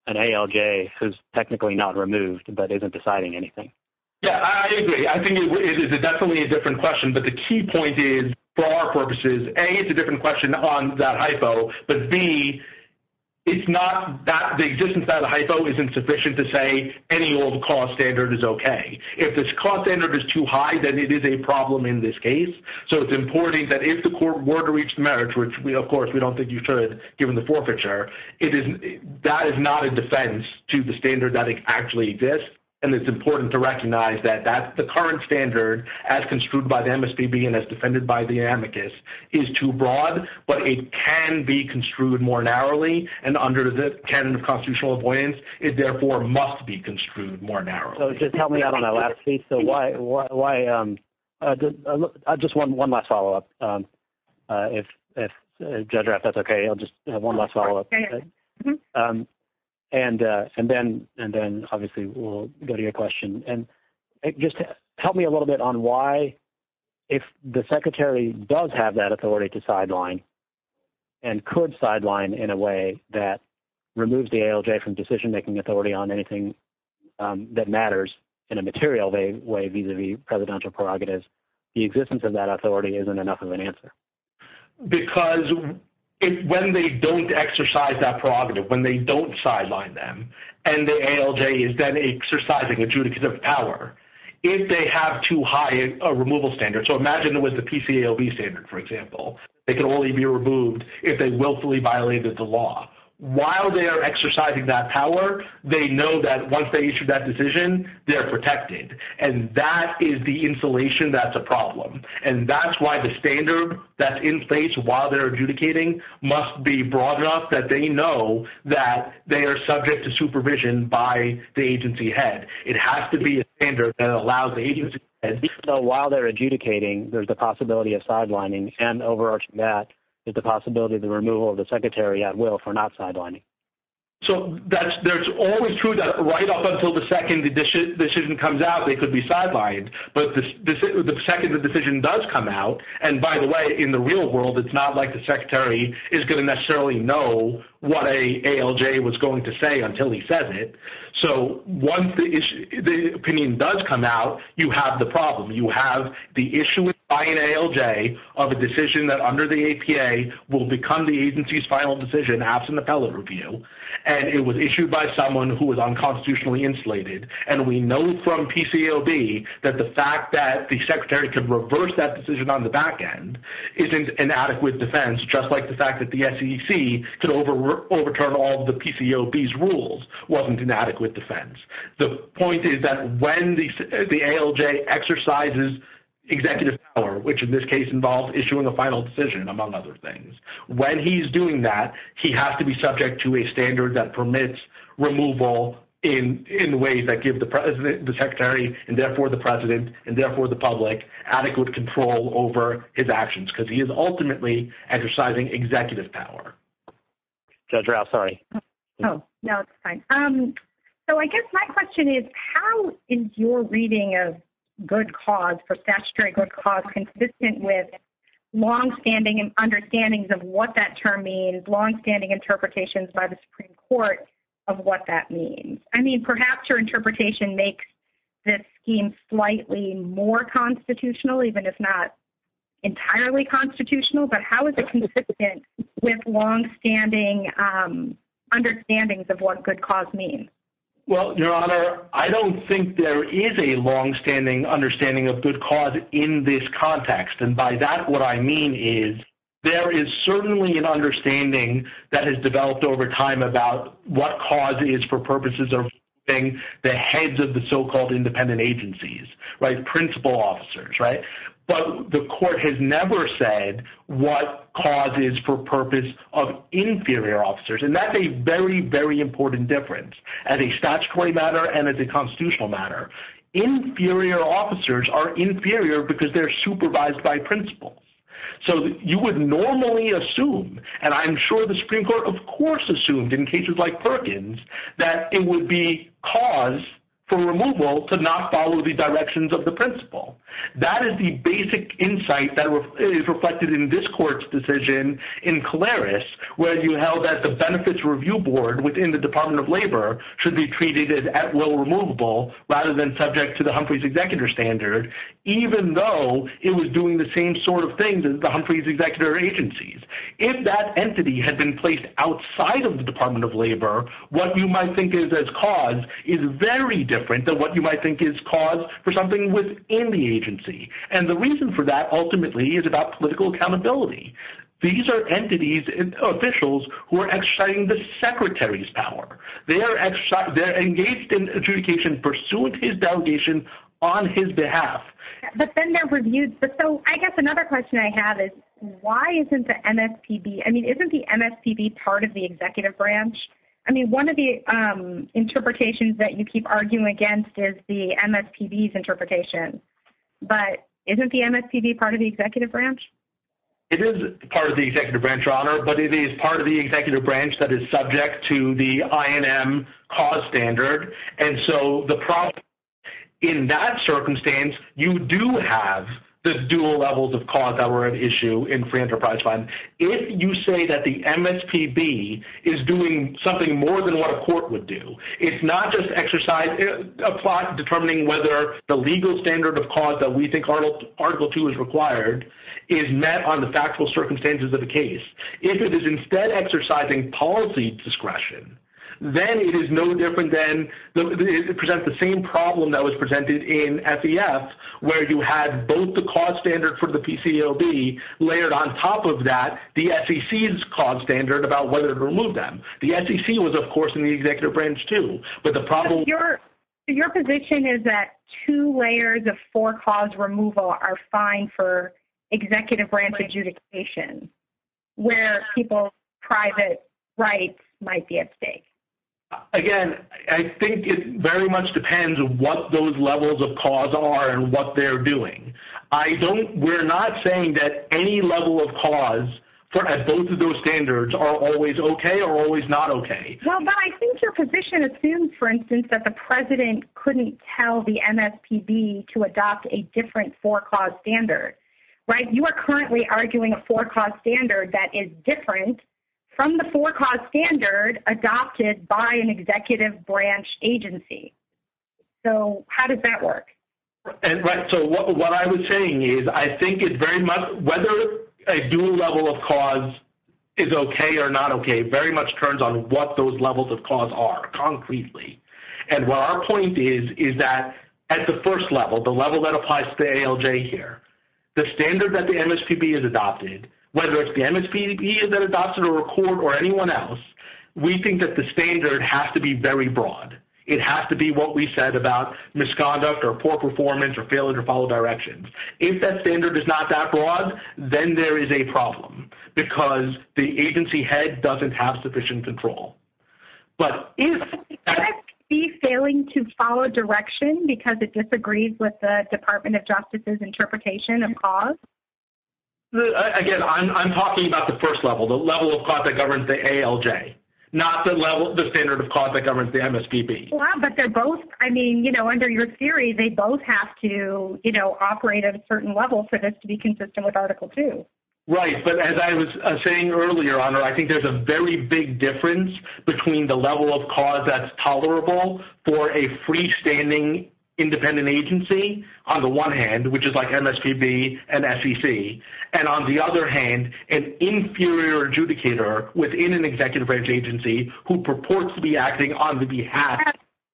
an ALJ who is technically not removed but isn't deciding anything. Yeah, I agree. I think it is definitely a different question. But the key point is, for our purposes, A, it's a different question on that hypo, but B, it's not that the existence of that hypo isn't sufficient to say any old cost standard is okay. If this cost standard is too high, then it is a problem in this case. So it's important that if the court were to reach the merits, which, of course, we don't think you should given the forfeiture, that is not a defense to the standard that actually exists, and it's important to recognize that the current standard, as construed by the MSDB and as defended by the amicus, is too broad, but it can be construed more narrowly, and under the canon of constitutional avoidance, it therefore must be construed more narrowly. So just help me out on that last piece. Just one last follow-up. If Judge Rapp, if that's okay, I'll just have one last follow-up. And then, obviously, we'll go to your question. And just help me a little bit on why, if the Secretary does have that authority to sideline and could sideline in a way that removes the ALJ from decision-making authority on anything that matters in a material way vis-à-vis presidential prerogatives, the existence of that authority isn't enough of an answer. Because when they don't exercise that prerogative, when they don't sideline them, and the ALJ is then exercising adjudicative power, if they have too high a removal standard, so imagine it was the PCAOB standard, for example. It could only be removed if they willfully violated the law. While they are exercising that power, they know that once they issue that decision, they're protected, and that is the insulation that's a problem. And that's why the standard that's in place while they're adjudicating must be broad enough that they know that they are subject to supervision by the agency head. It has to be a standard that allows the agency head to do that. So while they're adjudicating, there's the possibility of sidelining, and over that, there's the possibility of the removal of the Secretary at will for not sidelining. So that's always true that right up until the second the decision comes out, they could be sidelined. But the second the decision does come out, and by the way, in the real world, it's not like the Secretary is going to necessarily know what an ALJ was going to say until he says it. So once the opinion does come out, you have the problem. You have the issuance by an ALJ of a decision that under the APA will become the agency's final decision in the absence of fellow review, and it was issued by someone who was unconstitutionally insulated. And we know from PCAOB that the fact that the Secretary could reverse that decision on the back end isn't an adequate defense, just like the fact that the SEC could overturn all of the PCAOB's rules wasn't an adequate defense. The point is that when the ALJ exercises executive power, which in this case involves issuing a final decision, among other things, when he's doing that, he has to be subject to a standard that permits removal in ways that give the Secretary, and therefore the President, and therefore the public, adequate control over his actions because he is ultimately exercising executive power. Judge Rao, sorry. No, it's fine. So I guess my question is, how is your reading of good cause for statutory good cause consistent with longstanding understandings of what that term means, longstanding interpretations by the Supreme Court of what that means? I mean, perhaps your interpretation makes this scheme slightly more constitutional, even if not entirely constitutional, but how is it consistent with longstanding understandings of what good cause means? Well, Your Honor, I don't think there is a longstanding understanding of good cause in this context. And by that, what I mean is there is certainly an understanding that has developed over time about what cause is for purposes of the heads of the so-called independent agencies, principal officers, right? But the court has never said what cause is for purpose of inferior officers. And that's a very, very important difference as a statutory matter and as a constitutional matter. Inferior officers are inferior because they're supervised by principals. So you would normally assume, and I'm sure the Supreme Court of course assumed in cases like Perkins, that it would be cause for removal to not follow the directions of the principal. That is the basic insight that is reflected in this court's decision in Caleris, where you held that the Benefits Review Board within the Department of Labor should be treated as at will removable rather than subject to the Humphreys Executive Standard, even though it was doing the same sort of things as the Humphreys Executive Agencies. If that entity had been placed outside of the Department of Labor, what you might think of as cause is very different than what you might think is cause for something within the agency. And the reason for that ultimately is about political accountability. These are entities, officials, who are exercising the secretary's power. They're engaged in adjudication, pursuing his delegation on his behalf. But then they're reviewed. So I guess another question I have is why isn't the MSPB, I mean, isn't the MSPB part of the executive branch? I mean, one of the interpretations that you keep arguing against is the MSPB's interpretation. But isn't the MSPB part of the executive branch? It is part of the executive branch, Your Honor, but it is part of the executive branch that is subject to the INM cause standard. And so in that circumstance, you do have the dual levels of cause that were at issue in free enterprise funds. If you say that the MSPB is doing something more than what a court would do, it's not just determining whether the legal standard of cause that we think Article 2 is required is met on the factual circumstances of the case. If it is instead exercising policy discretion, then it presents the same problem that was presented in SEF, where you had both the cause standard for the PCLB layered on top of that, the SEC's cause standard about whether to remove them. The SEC was, of course, in the executive branch too. Your position is that two layers of four-cause removal are fine for executive branch adjudication, where people's private rights might be at stake. Again, I think it very much depends on what those levels of cause are and what they're doing. We're not saying that any level of cause at both of those standards are always okay or always not okay. Well, but I think your position assumes, for instance, that the president couldn't tell the MSPB to adopt a different four-cause standard, right? You are currently arguing a four-cause standard that is different from the four-cause standard adopted by an executive branch agency. So how does that work? So what I was saying is I think it's very much whether a dual level of cause is okay or not okay very much turns on what those levels of cause are concretely. And what our point is is that at the first level, the level that applies to the ALJ here, the standard that the MSPB has adopted, whether it's the MSPB that adopted or a court or anyone else, we think that the standard has to be very broad. It has to be what we said about misconduct or poor performance or failure to follow directions. If that standard is not that broad, then there is a problem because the agency head doesn't have sufficient control. But if it's failing to follow direction because it disagrees with the Department of Justice's interpretation of cause? Again, I'm talking about the first level, the level of cause that governs the ALJ, not the standard of cause that governs the MSPB. I mean, under your theory, they both have to operate at a certain level for this to be consistent with Article 2. Right. But as I was saying earlier, I think there's a very big difference between the level of cause that's tolerable for a freestanding independent agency on the one hand, which is like MSPB and SEC, and on the other hand, an inferior adjudicator within an executive branch agency who purports to be acting on behalf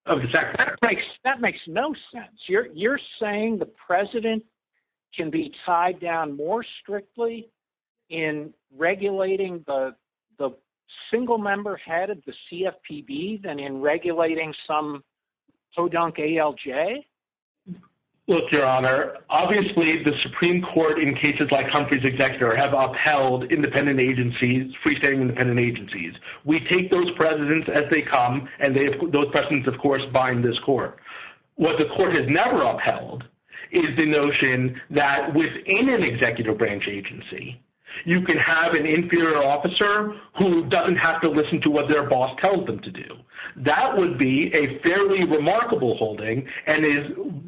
of the Secretary. That makes no sense. You're saying the president can be tied down more strictly in regulating the single-member head of the CFPB than in regulating some hoedown ALJ? Look, Your Honor, obviously the Supreme Court in cases like Humphrey's executor have upheld independent agencies, freestanding independent agencies. We take those presidents as they come, and those presidents, of course, bind this court. What the court has never upheld is the notion that within an executive branch agency, you can have an inferior officer who doesn't have to listen to what their boss tells them to do. That would be a fairly remarkable holding and is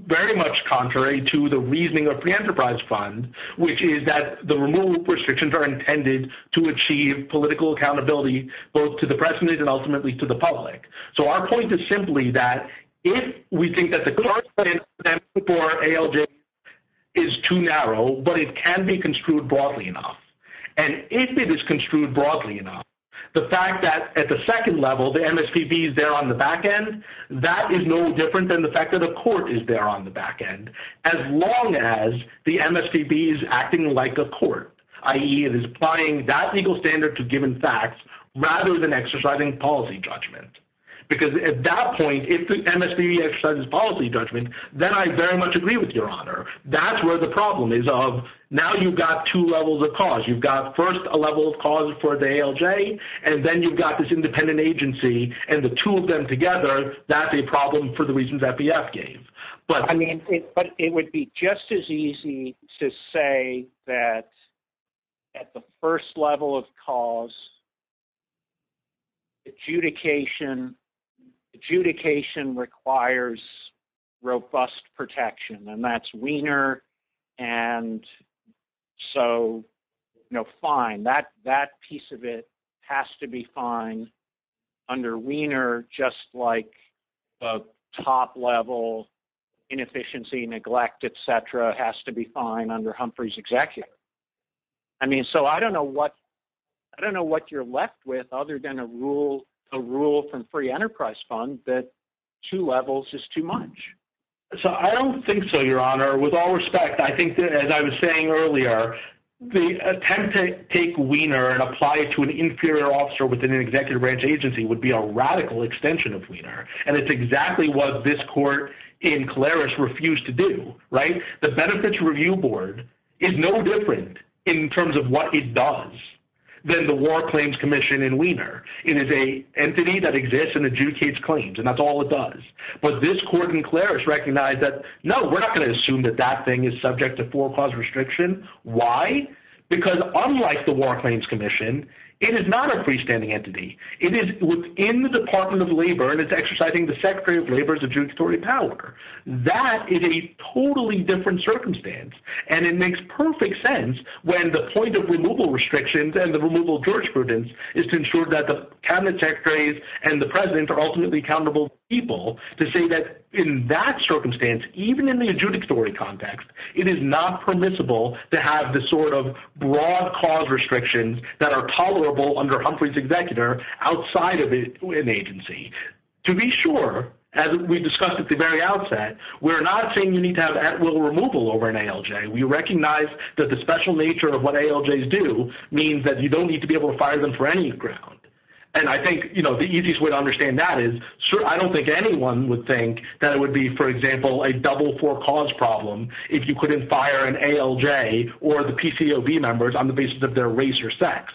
very much contrary to the reasoning of the Enterprise Fund, which is that the removal of restrictions are intended to achieve political accountability both to the president and ultimately to the public. So our point is simply that if we think that the court's plan for ALJ is too narrow, but it can be construed broadly enough, and if it is construed broadly enough, the fact that at the second level the MSPB is there on the back end, that is no different than the fact that the court is there on the back end. As long as the MSPB is acting like a court, i.e., it is applying that legal standard to given facts rather than exercising policy judgment. Because at that point, if the MSPB exercises policy judgment, then I very much agree with Your Honor. That's where the problem is of now you've got two levels of cause. You've got first a level of cause for the ALJ, and then you've got this independent agency, and the two of them together, that's a problem for the reasons FDF gave. I mean, it would be just as easy to say that at the first level of cause, adjudication requires robust protection, and that's Wiener. And so, you know, fine, that piece of it has to be fine under Wiener, just like the top level, inefficiency, neglect, et cetera, has to be fine under Humphrey's Executive. I mean, so I don't know what you're left with other than a rule from Free Enterprise Fund that two levels is too much. So I don't think so, Your Honor. With all respect, I think that, as I was saying earlier, the attempt to take Wiener and apply it to an inferior officer within an executive branch agency would be a radical extension of Wiener, and it's exactly what this court in Claris refused to do, right? The Benefits Review Board is no different in terms of what it does than the War Claims Commission in Wiener. It is an entity that exists and adjudicates claims, and that's all it does. But this court in Claris recognized that, no, we're not going to assume that that thing is subject to four-cause restriction. Why? Because unlike the War Claims Commission, it is not a freestanding entity. It is within the Department of Labor, and it's exercising the Secretary of Labor's adjudicatory power. That is a totally different circumstance, and it makes perfect sense when the point of removal restrictions and the removal of jurisprudence is to ensure that the Cabinet Secretaries and the President are ultimately accountable people to say that in that circumstance, even in the adjudicatory context, it is not permissible to have the sort of broad-cause restrictions that are tolerable under Humphrey's executor outside of an agency. To be sure, as we discussed at the very outset, we're not saying you need to have at-will removal over an ALJ. We recognize that the special nature of what ALJs do means that you don't need to be able to fire them for any ground. And I think the easiest way to understand that is I don't think anyone would think that it would be, for example, a double-four-cause problem if you couldn't fire an ALJ or the PCOB members on the basis of their race or sex.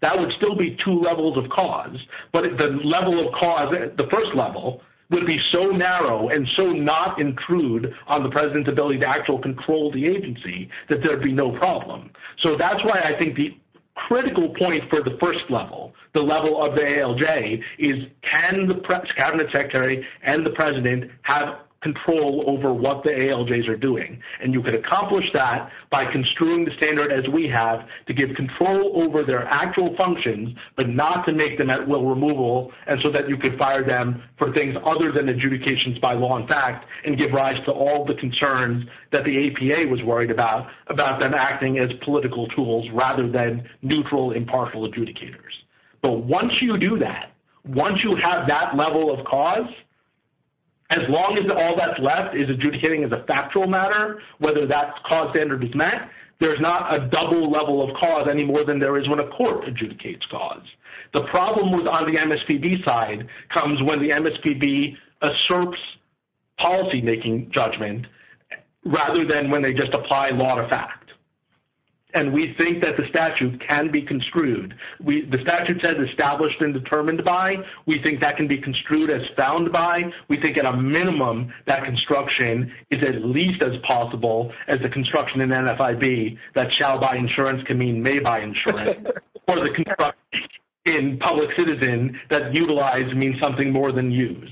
That would still be two levels of cause, but the level of cause at the first level would be so narrow and so not intrude on the President's ability to actually control the agency that there would be no problem. So that's why I think the critical point for the first level, the level of the ALJ, is can the Cabinet Secretary and the President have control over what the ALJs are doing? And you can accomplish that by construing the standard as we have to give control over their actual functions but not to make the at-will removal so that you can fire them for things other than adjudications by law and fact and give rise to all the concerns that the APA was worried about, about them acting as political tools rather than neutral, impartial adjudicators. But once you do that, once you have that level of cause, as long as all that's left is adjudicating as a factual matter, whether that cause standard is met, there's not a double level of cause any more than there is when a court adjudicates cause. The problem on the MSPB side comes when the MSPB asserts policy-making judgment rather than when they just apply law to fact. And we think that the statute can be construed. The statute says established and determined by. We think that can be construed as found by. We think at a minimum that construction is at least as possible as the construction in NFIB that shall by insurance can mean may by insurance. Or the construction in public citizen that utilize means something more than use.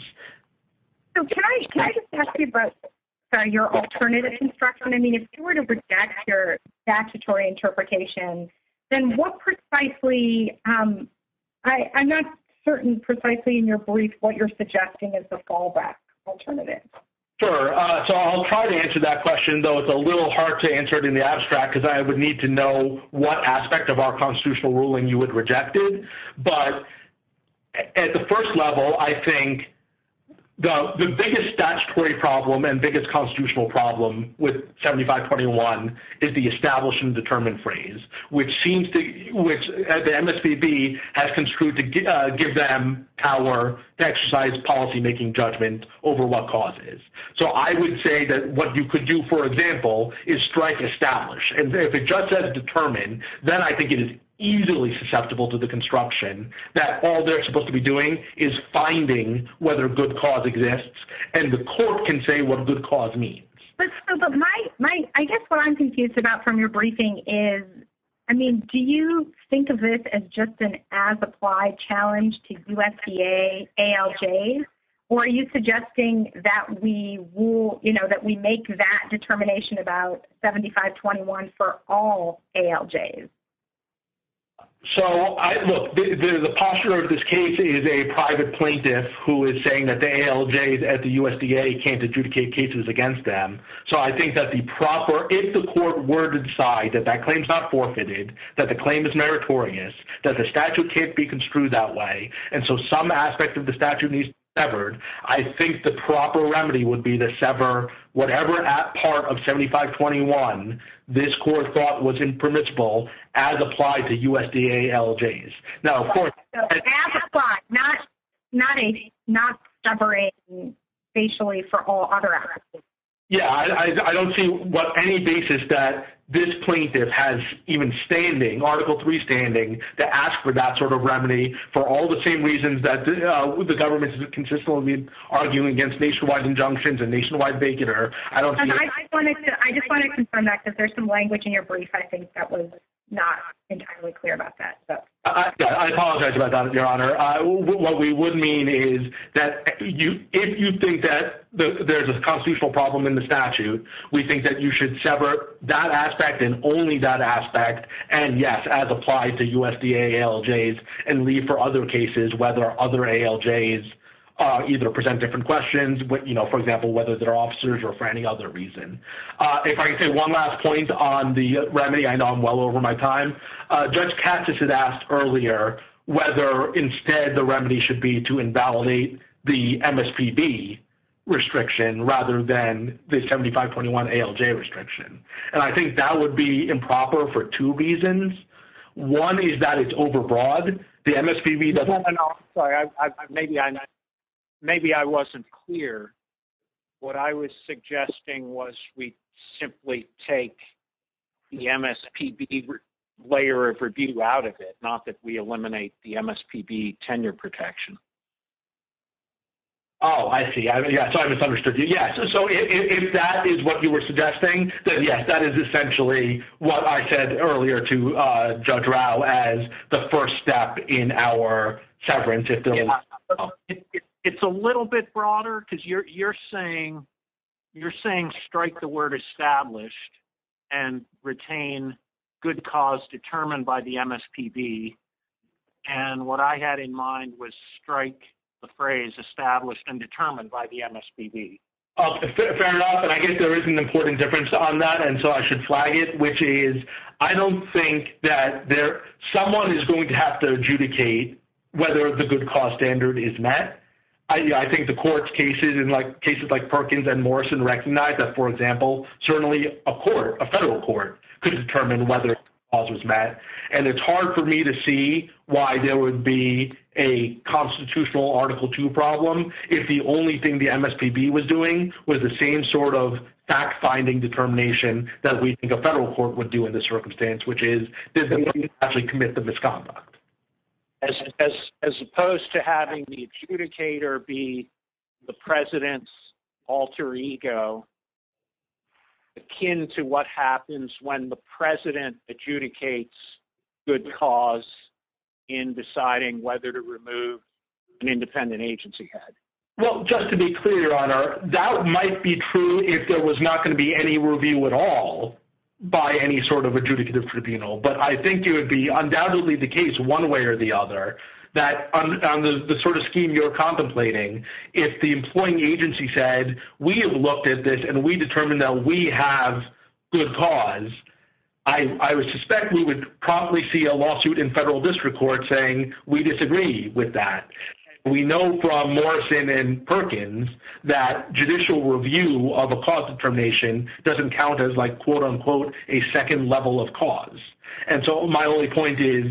So can I just ask you about your alternative construction? I mean, if you were to reject your statutory interpretation, then what precisely – I'm not certain precisely in your brief what you're suggesting as the fallback alternative. Sure. So I'll try to answer that question, though it's a little hard to answer it in the abstract because I would need to know what aspect of our constitutional ruling you would reject it. But at the first level, I think the biggest statutory problem and biggest constitutional problem with 7521 is the established and determined phrase, which seems to – which the MSPB has construed to give them power to exercise policy-making judgment over what causes. So I would say that what you could do, for example, is strike established. And if it just says determined, then I think it is easily susceptible to the construction that all they're supposed to be doing is finding whether a good cause exists and the court can say what a good cause means. I guess what I'm confused about from your briefing is, I mean, do you think of this as just an as-applied challenge to USDA ALJs? Or are you suggesting that we make that determination about 7521 for all ALJs? So, look, the posture of this case is a private plaintiff who is saying that the ALJs at the USDA can't adjudicate cases against them. So I think that the proper – if the court were to decide that that claim's not forfeited, that the claim is meritorious, that the statute can't be construed that way, and so some aspect of the statute needs to be severed, I think the proper remedy would be to sever whatever part of 7521 this court thought was impermissible as applied to USDA ALJs. So, as-applied, not separating spatially for all other ALJs. Yeah, I don't see what any basis that this plaintiff has even standing, Article III standing, to ask for that sort of remedy for all the same reasons that the government is consistently arguing against nationwide injunctions and nationwide baconer. I just want to confirm that because there's some language in your brief, I think, that was not entirely clear about that. I apologize about that, Your Honor. What we would mean is that if you think that there's a constitutional problem in the statute, we think that you should sever that aspect and only that aspect, and yes, as applied to USDA ALJs, and leave for other cases whether other ALJs either present different questions, you know, for example, whether they're officers or for any other reason. If I could say one last point on the remedy, I know I'm well over my time. Judge Katsas had asked earlier whether instead the remedy should be to invalidate the MSPB restriction rather than the 7521 ALJ restriction. And I think that would be improper for two reasons. One is that it's overbroad. No, no, no, I'm sorry. Maybe I wasn't clear. What I was suggesting was we simply take the MSPB layer of review out of it, not that we eliminate the MSPB tenure protection. Oh, I see. Sorry, I misunderstood you. Yes, so if that is what you were suggesting, then yes, that is essentially what I said earlier to Judge Rao as the first step in our severance. It's a little bit broader because you're saying strike the word established and retain good cause determined by the MSPB. And what I had in mind was strike the phrase established and determined by the MSPB. Okay, fair enough. And I guess there is an important difference on that, and so I should flag it, which is I don't think that someone is going to have to adjudicate whether the good cause standard is met. I think the court's cases, in cases like Perkins and Morrison, recognize that, for example, certainly a court, a federal court, could determine whether good cause was met. And it's hard for me to see why there would be a constitutional Article II problem if the only thing the MSPB was doing was the same sort of fact-finding determination that we think a federal court would do in this circumstance, which is to actually commit the misconduct. As opposed to having the adjudicator be the president's alter ego, akin to what happens when the president adjudicates good cause in deciding whether to remove an independent agency head. Well, just to be clear, Your Honor, that might be true if there was not going to be any review at all by any sort of adjudicative tribunal. But I think it would be undoubtedly the case one way or the other that on the sort of scheme you're contemplating, if the employing agency said, we have looked at this and we determined that we have good cause, I would suspect we would probably see a lawsuit in federal district court saying we disagree with that. We know from Morrison and Perkins that judicial review of a cause determination doesn't count as, like, quote-unquote, a second level of cause. And so my only point is,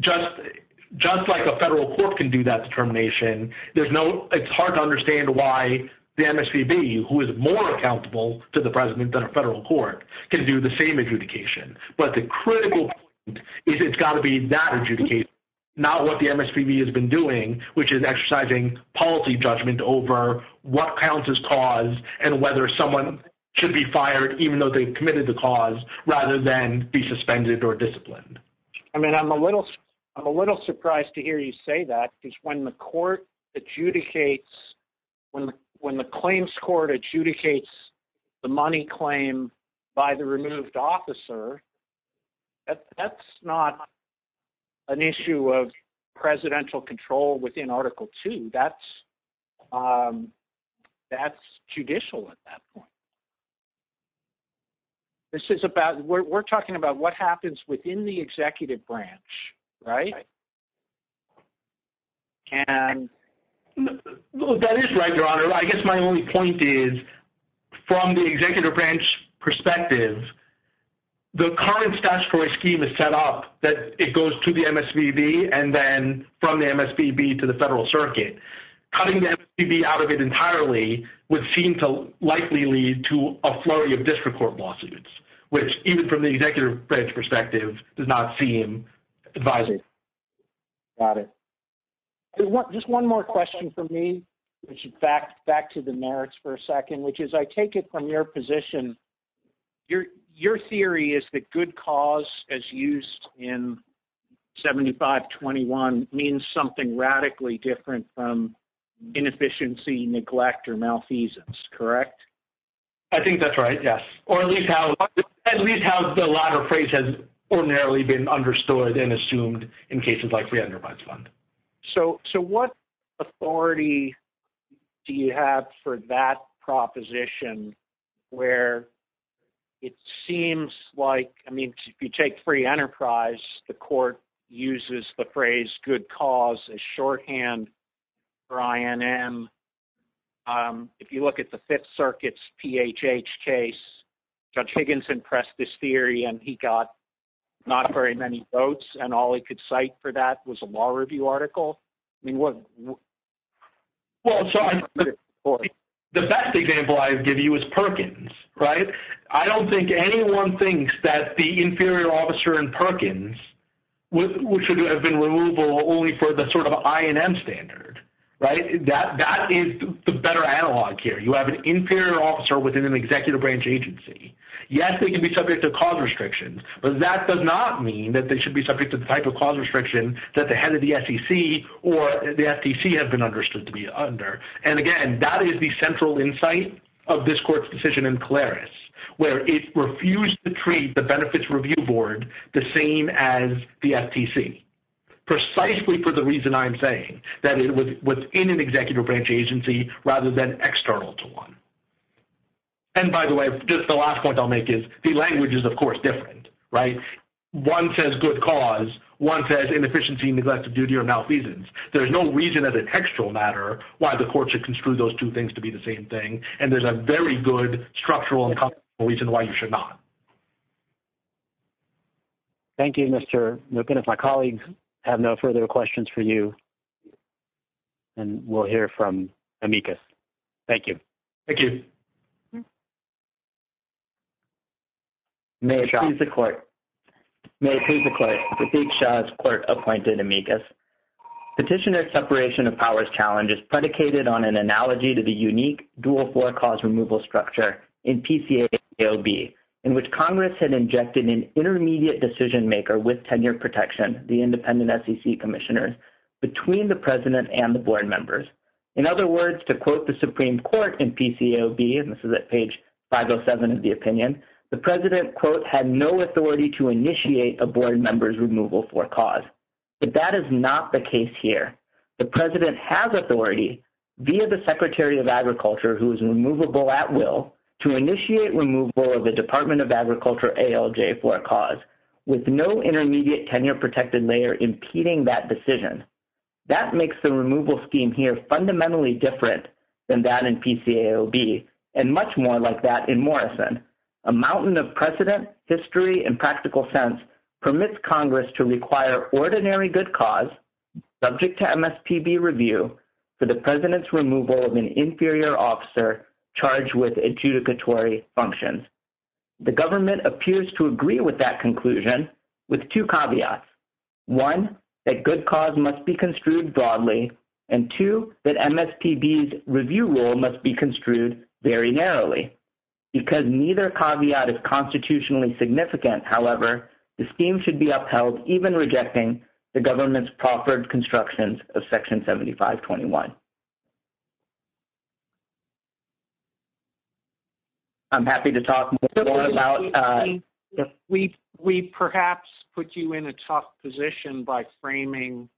just like a federal court can do that determination, it's hard to understand why the MSPB, who is more accountable to the president than a federal court, can do the same adjudication. But the critical point is it's got to be that adjudication, not what the MSPB has been doing, which is exercising policy judgment over what counts as cause and whether someone should be fired even though they've committed the cause, rather than be suspended or disciplined. I mean, I'm a little surprised to hear you say that, because when the court adjudicates, when the claims court adjudicates the money claim by the removed officer, that's not an issue of presidential control within Article II. That's judicial at that point. This is about – we're talking about what happens within the executive branch, right? That is right, Your Honor. I guess my only point is, from the executive branch perspective, the current statutory scheme is set up that it goes to the MSPB and then from the MSPB to the federal circuit. Cutting the MSPB out of it entirely would seem to likely lead to a flurry of district court lawsuits, which, even from the executive branch perspective, does not seem advisable. Got it. Just one more question from me, which, in fact, back to the merits for a second, which is I take it from your position. Your theory is that good cause, as used in 7521, means something radically different from inefficiency, neglect, or malfeasance, correct? I think that's right, yes, or at least how the latter phrase has ordinarily been understood and assumed in cases like the randomized fund. So what authority do you have for that proposition where it seems like – I mean, if you take free enterprise, the court uses the phrase good cause as shorthand for INM. If you look at the Fifth Circuit's PHH case, Judge Higginson pressed this theory, and he got not very many votes, and all he could cite for that was a law review article. Well, the best example I can give you is Perkins, right? I don't think anyone thinks that the inferior officer in Perkins should have been removable only for the sort of INM standard, right? That is the better analog here. You have an inferior officer within an executive branch agency. Yes, they can be subject to cause restrictions, but that does not mean that they should be subject to the type of cause restriction that the head of the SEC or the FTC have been understood to be under. And again, that is the central insight of this court's decision in Claris, where it refused to treat the benefits review board the same as the FTC, precisely for the reason I'm saying, that it was within an executive branch agency rather than external to one. And by the way, just the last point I'll make is the language is, of course, different, right? One says good cause. One says inefficiency, neglect of duty, or malfeasance. There's no reason as a textual matter why the court should construe those two things to be the same thing, and there's a very good structural reason why you should not. Thank you, Mr. Milken. If my colleagues have no further questions for you, and we'll hear from Amicus. Thank you. Thank you. May it please the court. May it please the court. Prateek Shah's court appointed Amicus. Petitioner's separation of powers challenge is predicated on an analogy to the unique dual floor cause removal structure in PCAOB, in which Congress had injected an intermediate decision maker with tenure protection, the independent SEC commissioners, between the president and the board members. In other words, to quote the Supreme Court in PCAOB, and this is at page 507 of the opinion, the president, quote, had no authority to initiate a board member's removal floor cause. But that is not the case here. The president has authority via the Secretary of Agriculture, who is removable at will, to initiate removal of the Department of Agriculture ALJ floor cause with no intermediate tenure protected layer impeding that decision. That makes the removal scheme here fundamentally different than that in PCAOB and much more like that in Morrison. A mountain of precedent, history, and practical sense permits Congress to require ordinary good cause subject to MSPB review for the president's removal of an inferior officer charged with adjudicatory functions. The government appears to agree with that conclusion with two caveats. One, that good cause must be construed broadly, and two, that MSPB's review rule must be construed very narrowly. Because neither caveat is constitutionally significant, however, the scheme should be upheld, even rejecting the government's proffered constructions of Section 7521. I'm happy to talk more about... We perhaps put you in a tough position by framing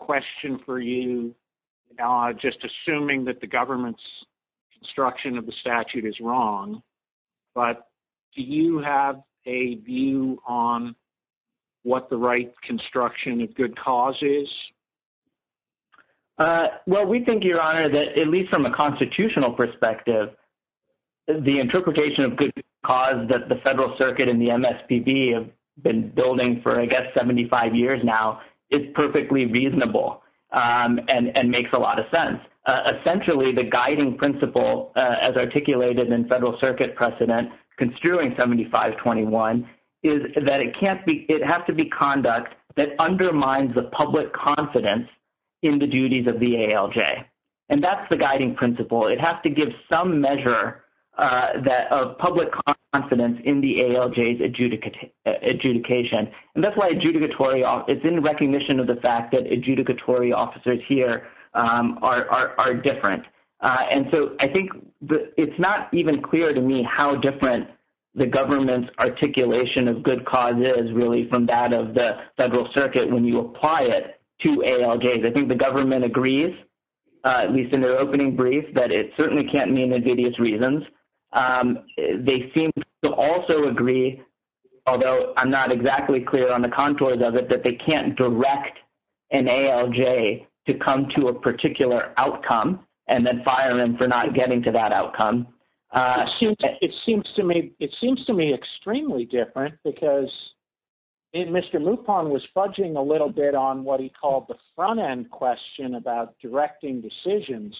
a question for you, just assuming that the government's construction of the statute is wrong, but do you have a view on what the right construction of good cause is? Well, we think, Your Honor, that at least from a constitutional perspective, the interpretation of good cause that the Federal Circuit and the MSPB have been building for, I guess, 75 years now is perfectly reasonable and makes a lot of sense. Essentially, the guiding principle as articulated in Federal Circuit precedent construing 7521 is that it has to be conduct that undermines the public confidence in the duties of the ALJ. And that's the guiding principle. It has to give some measure of public confidence in the ALJ's adjudication. And that's why it's in recognition of the fact that adjudicatory officers here are different. And so I think it's not even clear to me how different the government's articulation of good cause is, really, from that of the Federal Circuit when you apply it to ALJs. I think the government agrees, at least in their opening brief, that it certainly can't mean they give these reasons. They seem to also agree, although I'm not exactly clear on the contours of it, that they can't direct an ALJ to come to a particular outcome and then fire them for not getting to that outcome. It seems to me extremely different because Mr. Lupon was fudging a little bit on what he called the front-end question about directing decisions.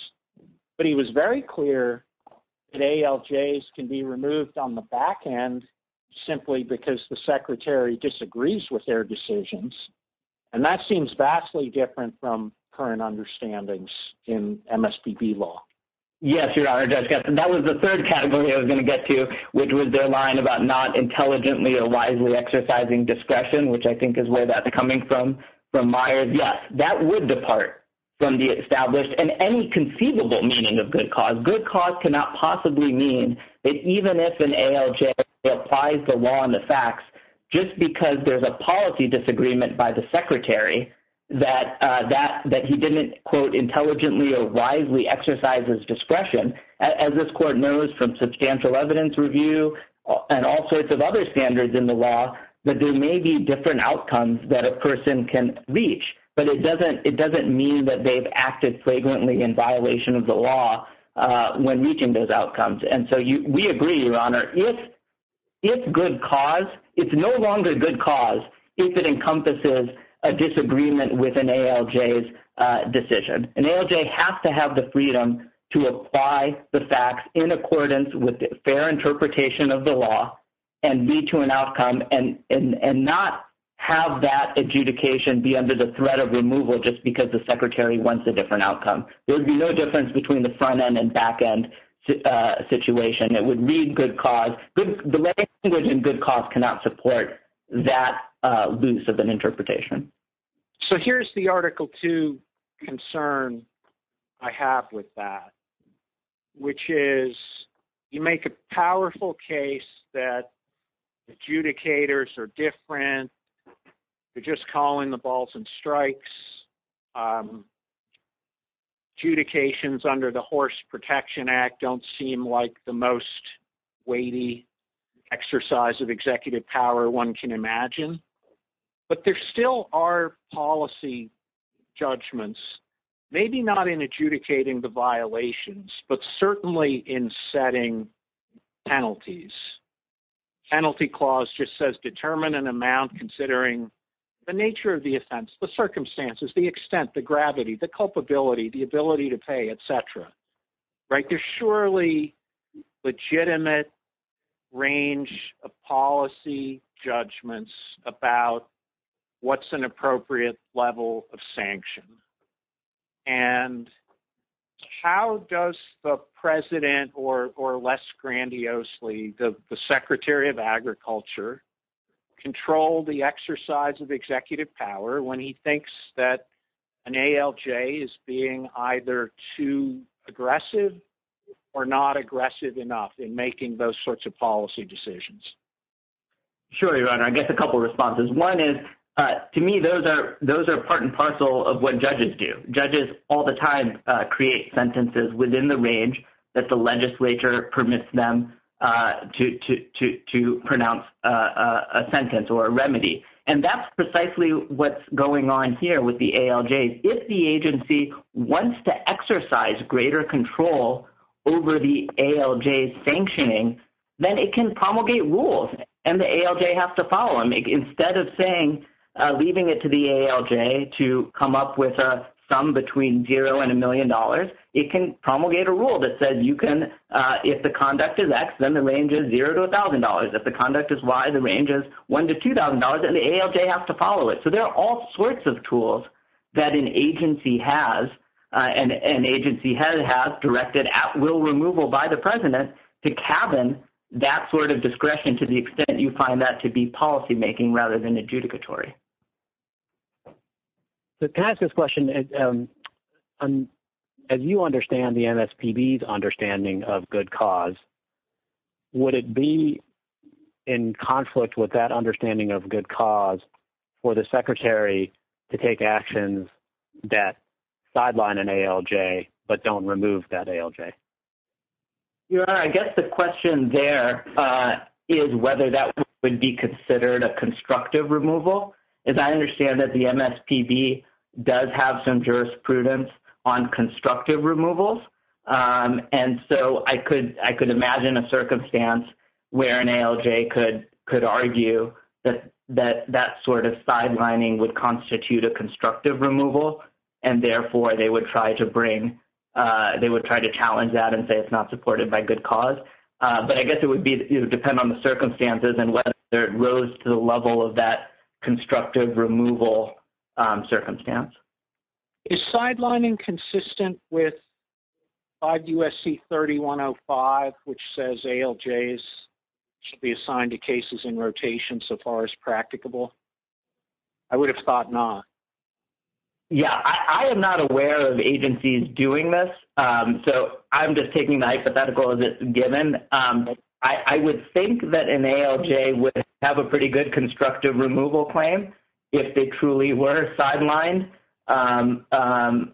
But he was very clear that ALJs can be removed on the back end simply because the secretary disagrees with their decisions. And that seems vastly different from current understandings in MSBB law. Yes, Your Honor, that was the third category I was going to get to, which was their line about not intelligently or wisely exercising discretion, which I think is where that's coming from, from Myers. Yes, that would depart from the established and any conceivable meaning of good cause. Good cause cannot possibly mean that even if an ALJ applies the law and the facts, just because there's a policy disagreement by the secretary that he didn't, quote, intelligently or wisely exercise his discretion. As this court knows from substantial evidence review and all sorts of other standards in the law, that there may be different outcomes that a person can reach, but it doesn't mean that they've acted flagrantly in violation of the law when reaching those outcomes. And so we agree, Your Honor, if good cause, it's no longer good cause if it encompasses a disagreement with an ALJ's decision. An ALJ has to have the freedom to apply the facts in accordance with fair interpretation of the law and lead to an outcome and not have that adjudication be under the threat of removal just because the secretary wants a different outcome. There would be no difference between the front end and back end situation. It would be good cause. The language in good cause cannot support that loose of an interpretation. So here's the Article 2 concern I have with that, which is you make a powerful case that adjudicators are different. They're just calling the balls and strikes. Adjudications under the Horse Protection Act don't seem like the most weighty exercise of executive power one can imagine. But there still are policy judgments, maybe not in adjudicating the violations, but certainly in setting penalties. Penalty clause just says determine an amount considering the nature of the offense, the circumstances, the extent, the gravity, the culpability, the ability to pay, etc. There's surely legitimate range of policy judgments about what's an appropriate level of sanction. And how does the president, or less grandiosely, the Secretary of Agriculture, control the exercise of executive power when he thinks that an ALJ is being either too aggressive or not aggressive enough in making those sorts of policy decisions? Sure, Your Honor. I guess a couple responses. One is, to me, those are part and parcel of what judges do. Judges all the time create sentences within the range that the legislature permits them to pronounce a sentence or a remedy. And that's precisely what's going on here with the ALJs. If the agency wants to exercise greater control over the ALJ's sanctioning, then it can promulgate rules, and the ALJ has to follow them. Instead of saying, leaving it to the ALJ to come up with a sum between zero and a million dollars, it can promulgate a rule that says you can, if the conduct is X, then the range is zero to $1,000. If the conduct is Y, the range is one to $2,000, and the ALJ has to follow it. So there are all sorts of tools that an agency has directed at will removal by the president to cabin that sort of discretion to the extent you find that to be policymaking rather than adjudicatory. Can I ask this question? As you understand the MSPB's understanding of good cause, would it be in conflict with that understanding of good cause for the secretary to take actions that sideline an ALJ but don't remove that ALJ? I guess the question there is whether that would be considered a constructive removal. As I understand it, the MSPB does have some jurisprudence on constructive removals, and so I could imagine a circumstance where an ALJ could argue that that sort of sidelining would constitute a constructive removal, and therefore they would try to challenge that and say it's not supported by good cause. But I guess it would depend on the circumstances and whether it rose to the level of that constructive removal circumstance. Is sidelining consistent with 5 U.S.C. 3105, which says ALJs should be assigned to cases in rotation so far as practicable? I would have thought not. Yeah, I am not aware of agencies doing this, so I'm just taking the hypothetical as it's given. I would think that an ALJ would have a pretty good constructive removal claim if they truly were sidelined and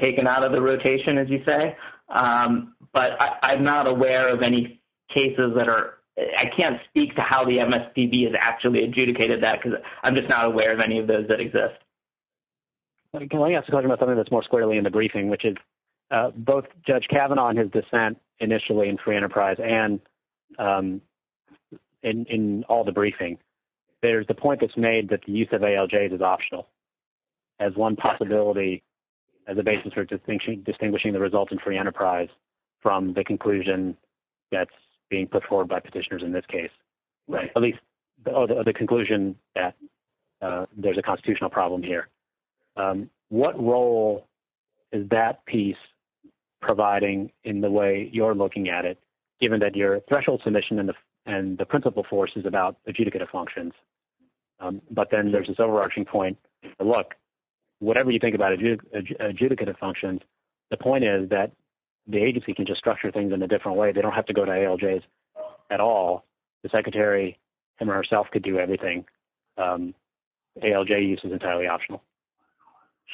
taken out of the rotation, as you say. But I'm not aware of any cases that are – I can't speak to how the MSPB has actually adjudicated that because I'm just not aware of any of those that exist. Can I ask a question about something that's more squarely in the briefing, which is both Judge Kavanaugh and his dissent initially in free enterprise and in all the briefings, there's the point that's made that the use of ALJs is optional as one possibility as a basis for distinguishing the result in free enterprise from the conclusion that's being put forward by petitioners in this case, or the conclusion that there's a constitutional problem here. What role is that piece providing in the way you're looking at it, given that your threshold submission and the principle force is about adjudicative functions? But then there's this overarching point. Look, whatever you think about adjudicative functions, the point is that the agency can just structure things in a different way. They don't have to go to ALJs at all. The secretary him or herself could do everything. ALJ use is entirely optional.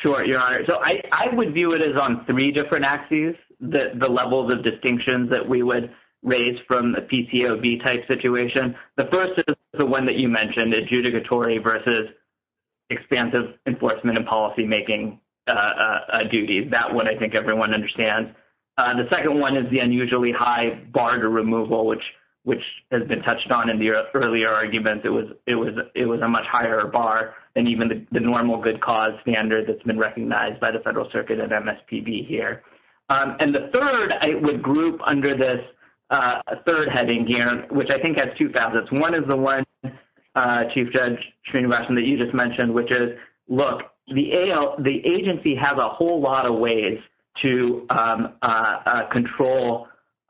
Sure, Your Honor. So I would view it as on three different axes, the levels of distinctions that we would raise from a PCOB-type situation. The first is the one that you mentioned, adjudicatory versus expansive enforcement and policymaking duty. That one I think everyone understands. The second one is the unusually high bar to removal, which has been touched on in the earlier argument. It was a much higher bar than even the normal good cause standard that's been recognized by the Federal Circuit and MSPB here. And the third, I would group under this third heading here, which I think has two facets. One is the one, Chief Judge Srinivasan, that you just mentioned, which is, look, the agency has a whole lot of ways to control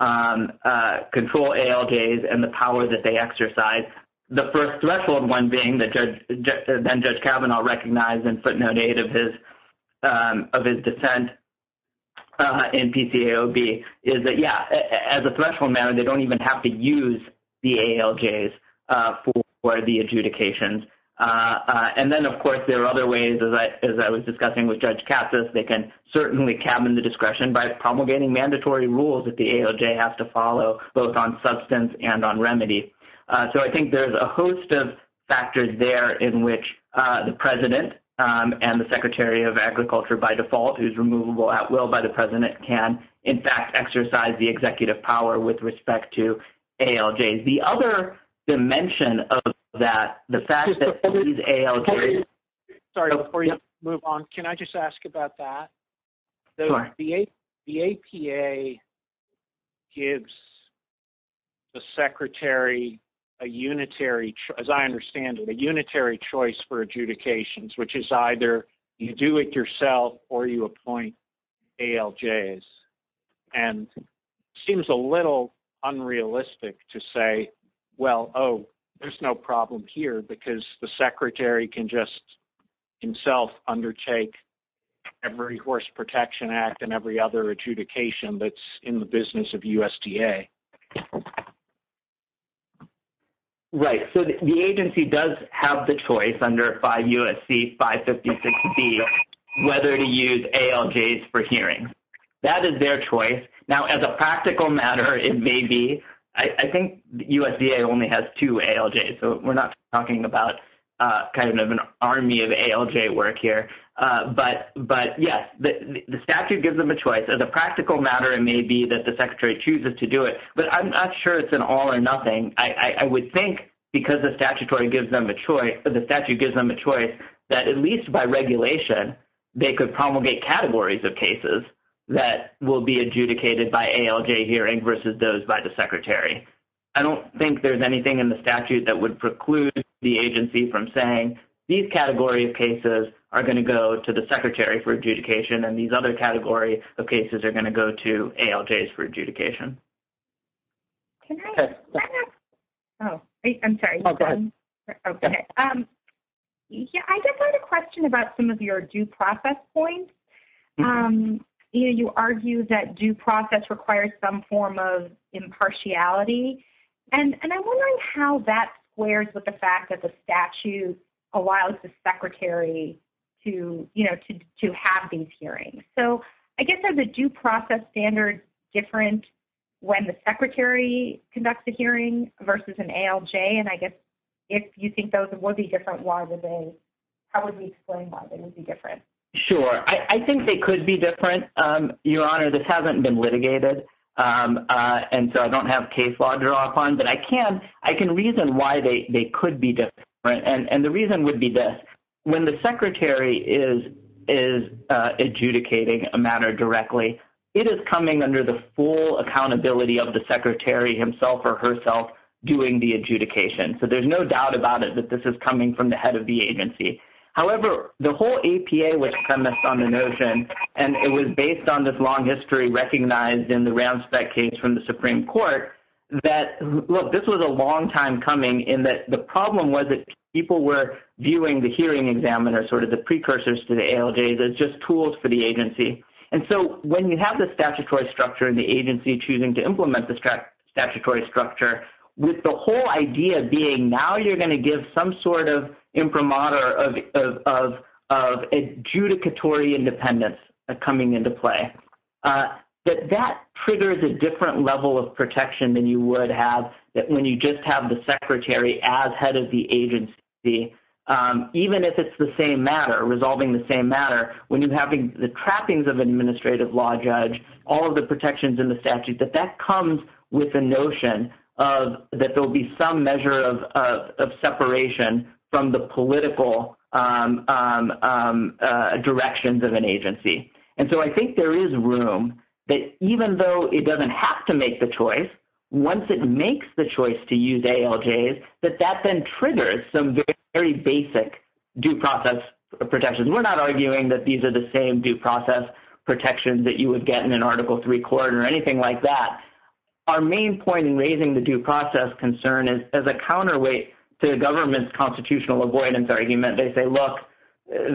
ALJs and the power that they exercise. The first threshold one being that Judge Kavanaugh recognized in footnote 8 of his dissent in PCAOB is that, yeah, as a threshold matter, they don't even have to use the ALJs for the adjudications. And then, of course, there are other ways, as I was discussing with Judge Katsas, they can certainly cabin the discretion by promulgating mandatory rules that the ALJ has to follow, both on substance and on remedies. So I think there's a host of factors there in which the President and the Secretary of Agriculture, by default, who's removable at will by the President, can, in fact, exercise the executive power with respect to ALJs. The other dimension of that, the fact that these ALJs. Well, oh, there's no problem here because the Secretary can just himself undertake every Horse Protection Act and every other adjudication that's in the business of USDA. Right. So the agency does have the choice under 5 U.S.C. 556B whether to use ALJs for hearings. That is their choice. Now, as a practical matter, it may be. I think USDA only has two ALJs, so we're not talking about kind of an army of ALJ work here. But, yes, the statute gives them a choice. As a practical matter, it may be that the Secretary chooses to do it, but I'm not sure it's an all or nothing. I would think, because the statute gives them the choice, that at least by regulation, they could promulgate categories of cases that will be adjudicated by ALJ hearing versus those by the Secretary. I don't think there's anything in the statute that would preclude the agency from saying these categories of cases are going to go to the Secretary for adjudication and these other categories of cases are going to go to ALJs for adjudication. Can I ask? Oh, I'm sorry. I just had a question about some of your due process points. You argue that due process requires some form of impartiality, and I'm wondering how that squares with the fact that the statute allows the Secretary to, you know, to have these hearings. So I guess are the due process standards different when the Secretary conducts a hearing versus an ALJ? And I guess if you think those would be different, how would we explain why they would be different? Sure. I think they could be different. Your Honor, this hasn't been litigated, and so I don't have case law to draw upon. But I can reason why they could be different, and the reason would be this. When the Secretary is adjudicating a matter directly, it is coming under the full accountability of the Secretary himself or herself doing the adjudication. So there's no doubt about it that this is coming from the head of the agency. However, the whole APA was premised on the notion, and it was based on this long history recognized in the Roundspec case from the Supreme Court, that, look, this was a long time coming in that the problem was that people were viewing the hearing examiner, sort of the precursors to the ALJ, as just tools for the agency. And so when you have the statutory structure and the agency choosing to implement the statutory structure, with the whole idea being now you're going to give some sort of imprimatur of adjudicatory independence coming into play, that that triggers a different level of protection than you would have when you just have the Secretary as head of the agency. Even if it's the same matter, resolving the same matter, when you're having the trappings of an administrative law judge, all of the protections in the statute, that that comes with the notion that there will be some measure of separation from the political directions of an agency. And so I think there is room that even though it doesn't have to make the choice, once it makes the choice to use ALJs, that that then triggers some very basic due process protections. We're not arguing that these are the same due process protections that you would get in an Article III court or anything like that. Our main point in raising the due process concern is as a counterweight to the government's constitutional avoidance argument. They say, look,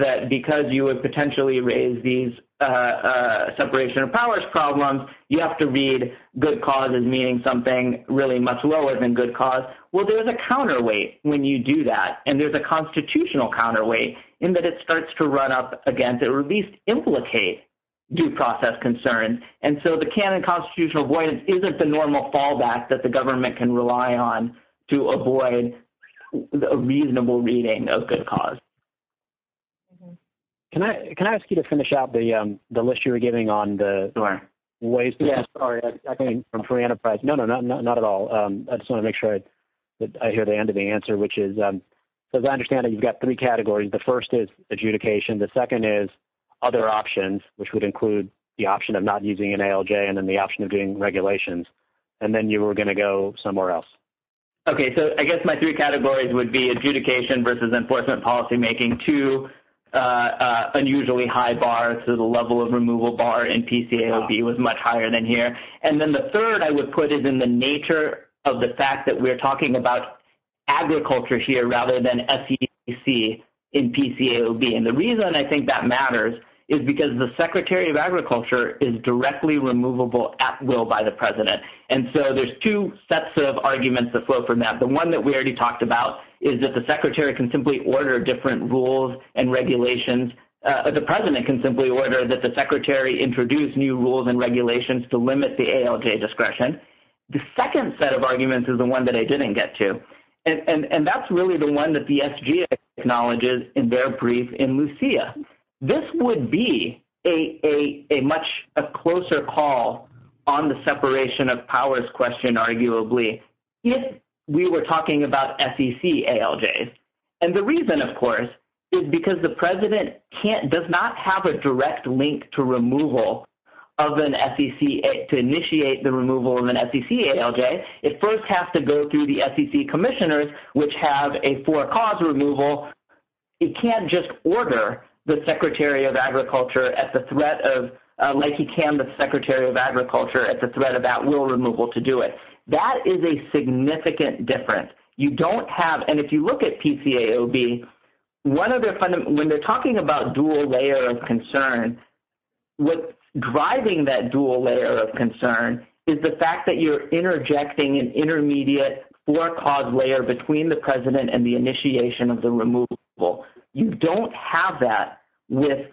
that because you would potentially raise these separation of powers problems, you have to read good cause as meaning something really much lower than good cause. Well, there's a counterweight when you do that, and there's a constitutional counterweight in that it starts to run up against or at least implicate due process concerns. And so the canon constitutional avoidance isn't the normal fallback that the government can rely on to avoid a reasonable reading of good cause. Can I ask you to finish out the list you were giving on the ways to— Yeah, sorry. I'm talking from free enterprise. No, no, no, not at all. I just want to make sure that I hear the end of the answer, which is, as I understand it, you've got three categories. The first is adjudication. The second is other options, which would include the option of not using an ALJ and then the option of doing regulations. And then you were going to go somewhere else. Okay. So I guess my three categories would be adjudication versus enforcement policymaking. Two, unusually high bar, so the level of removal bar in PCAOB was much higher than here. And then the third I would put is in the nature of the fact that we're talking about agriculture here rather than SEC in PCAOB. And the reason I think that matters is because the secretary of agriculture is directly removable at will by the president. And so there's two sets of arguments that flow from that. The one that we already talked about is that the secretary can simply order different rules and regulations, or the president can simply order that the secretary introduce new rules and regulations to limit the ALJ discretion. The second set of arguments is the one that I didn't get to. And that's really the one that the SG acknowledges in their brief in Lucia. This would be a much closer call on the separation of powers question, arguably, if we were talking about SEC ALJs. And the reason, of course, is because the president does not have a direct link to removal of an SEC, to initiate the removal of an SEC ALJ. It first has to go through the SEC commissioners, which have a for-cause removal. It can't just order the secretary of agriculture at the threat of – like he can the secretary of agriculture at the threat of at-will removal to do it. That is a significant difference. You don't have – and if you look at PCAOB, one of their – when they're talking about dual layer of concern, what's driving that dual layer of concern is the fact that you're interjecting an intermediate for-cause layer between the president and the initiation of the removal. You don't have that with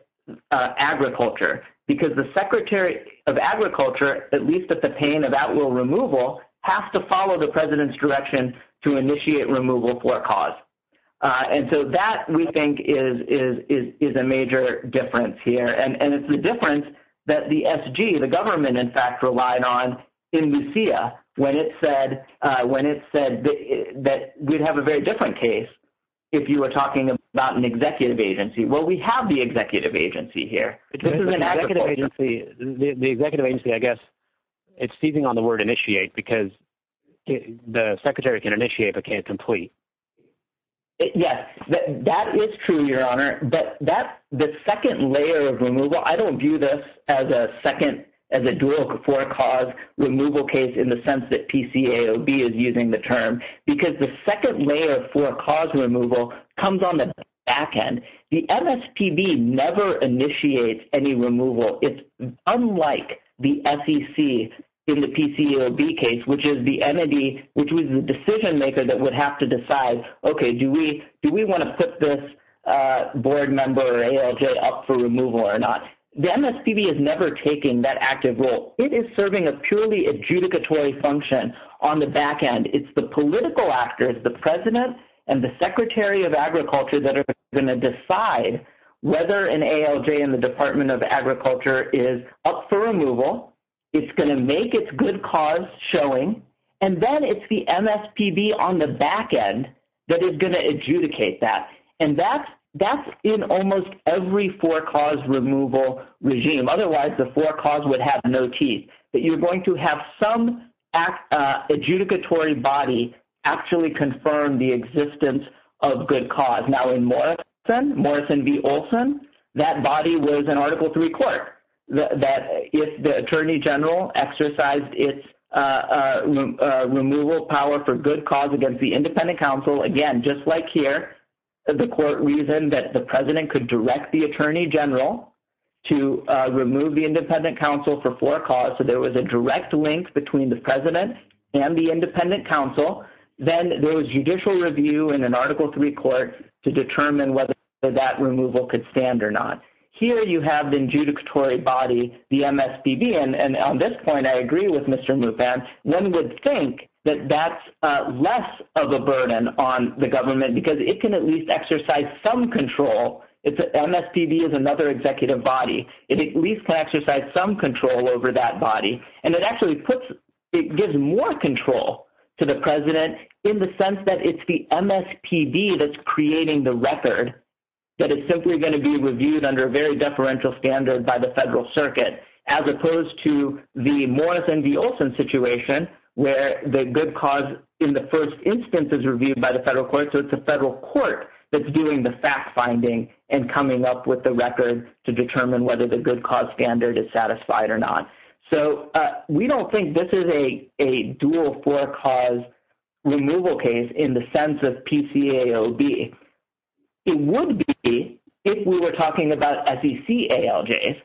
agriculture because the secretary of agriculture, at least at the pain of at-will removal, has to follow the president's direction to initiate removal for-cause. And so that, we think, is a major difference here. And it's the difference that the SG, the government, in fact, relied on in Lucia when it said that we'd have a very different case if you were talking about an executive agency. Well, we have the executive agency here. The executive agency, I guess, it's seizing on the word initiate because the secretary can initiate but can't complete. Yes, that is true, Your Honor. But that – the second layer of removal – I don't view this as a second – as a dual for-cause removal case in the sense that PCAOB is using the term because the second layer for-cause removal comes on the back end. The MSPB never initiates any removal. It's unlike the SEC in the PCAOB case, which is the entity – which was the decision-maker that would have to decide, okay, do we want to put this board member or ALJ up for removal or not? The MSPB is never taking that active role. It is serving a purely adjudicatory function on the back end. It's the political actors, the president and the secretary of agriculture that are going to decide whether an ALJ in the Department of Agriculture is up for removal. It's going to make its good cause showing. And then it's the MSPB on the back end that is going to adjudicate that. And that's in almost every for-cause removal regime. Otherwise, the for-cause would have no teeth. But you're going to have some adjudicatory body actually confirm the existence of good cause. Now, in Morrison v. Olson, that body was an Article III court. If the attorney general exercised its removal power for good cause against the independent counsel, again, just like here, the court reasoned that the president could direct the attorney general to remove the independent counsel for for-cause. So there was a direct link between the president and the independent counsel. Then there was judicial review in an Article III court to determine whether that removal could stand or not. Here you have the adjudicatory body, the MSPB. And on this point, I agree with Mr. Mufan. One would think that that's less of a burden on the government because it can at least exercise some control. MSPB is another executive body. It at least can exercise some control over that body. And it actually gives more control to the president in the sense that it's the MSPB that's creating the record, that it's simply going to be reviewed under a very deferential standard by the federal circuit, as opposed to the Morrison v. Olson situation where the good cause in the first instance is reviewed by the federal court. So it's the federal court that's doing the fact-finding and coming up with the record to determine whether the good cause standard is satisfied or not. So we don't think this is a dual for-cause removal case in the sense of PCAOB. It would be if we were talking about SEC ALJs.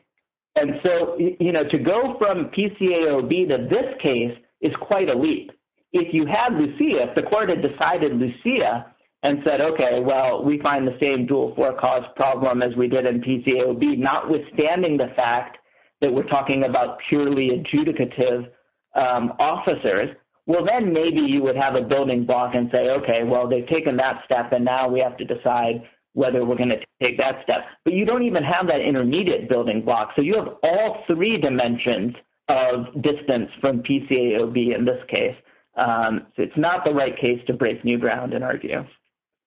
And so, you know, to go from PCAOB to this case is quite a leap. If you had Lucia, if the court had decided Lucia and said, okay, well, we find the same dual for-cause problem as we did in PCAOB, notwithstanding the fact that we're talking about purely adjudicative officers, well, then maybe you would have a building block and say, okay, well, they've taken that step, and now we have to decide whether we're going to take that step. But you don't even have that intermediate building block. So you have all three dimensions of distance from PCAOB in this case. It's not the right case to break new ground and argue.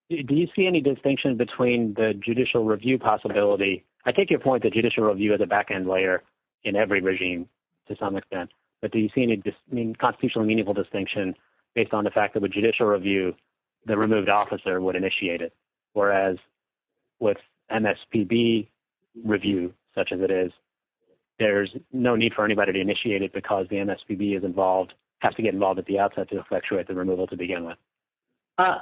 Do you see any distinction between the judicial review possibility? I take your point that judicial review is a back-end layer in every regime to some extent. But do you see any constitutional meaningful distinction based on the fact that with judicial review, the removed officer would initiate it, whereas with MSPB review, such as it is, there's no need for anybody to initiate it because the MSPB is involved, has to get involved at the outset to effectuate the removal to begin with.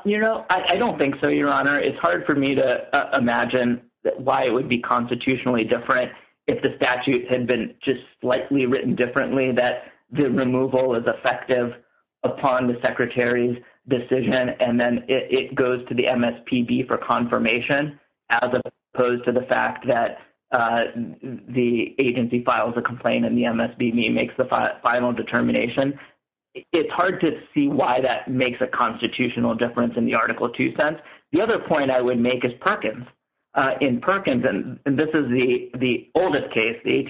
You know, I don't think so, Your Honor. It's hard for me to imagine why it would be constitutionally different if the statute had been just slightly written differently, that the removal is effective upon the secretary's decision, and then it goes to the MSPB for confirmation as opposed to the fact that the agency files a complaint and the MSPB makes the final determination. It's hard to see why that makes a constitutional difference in the Article 2 sense. The other point I would make is Perkins. In Perkins, and this is the oldest case, the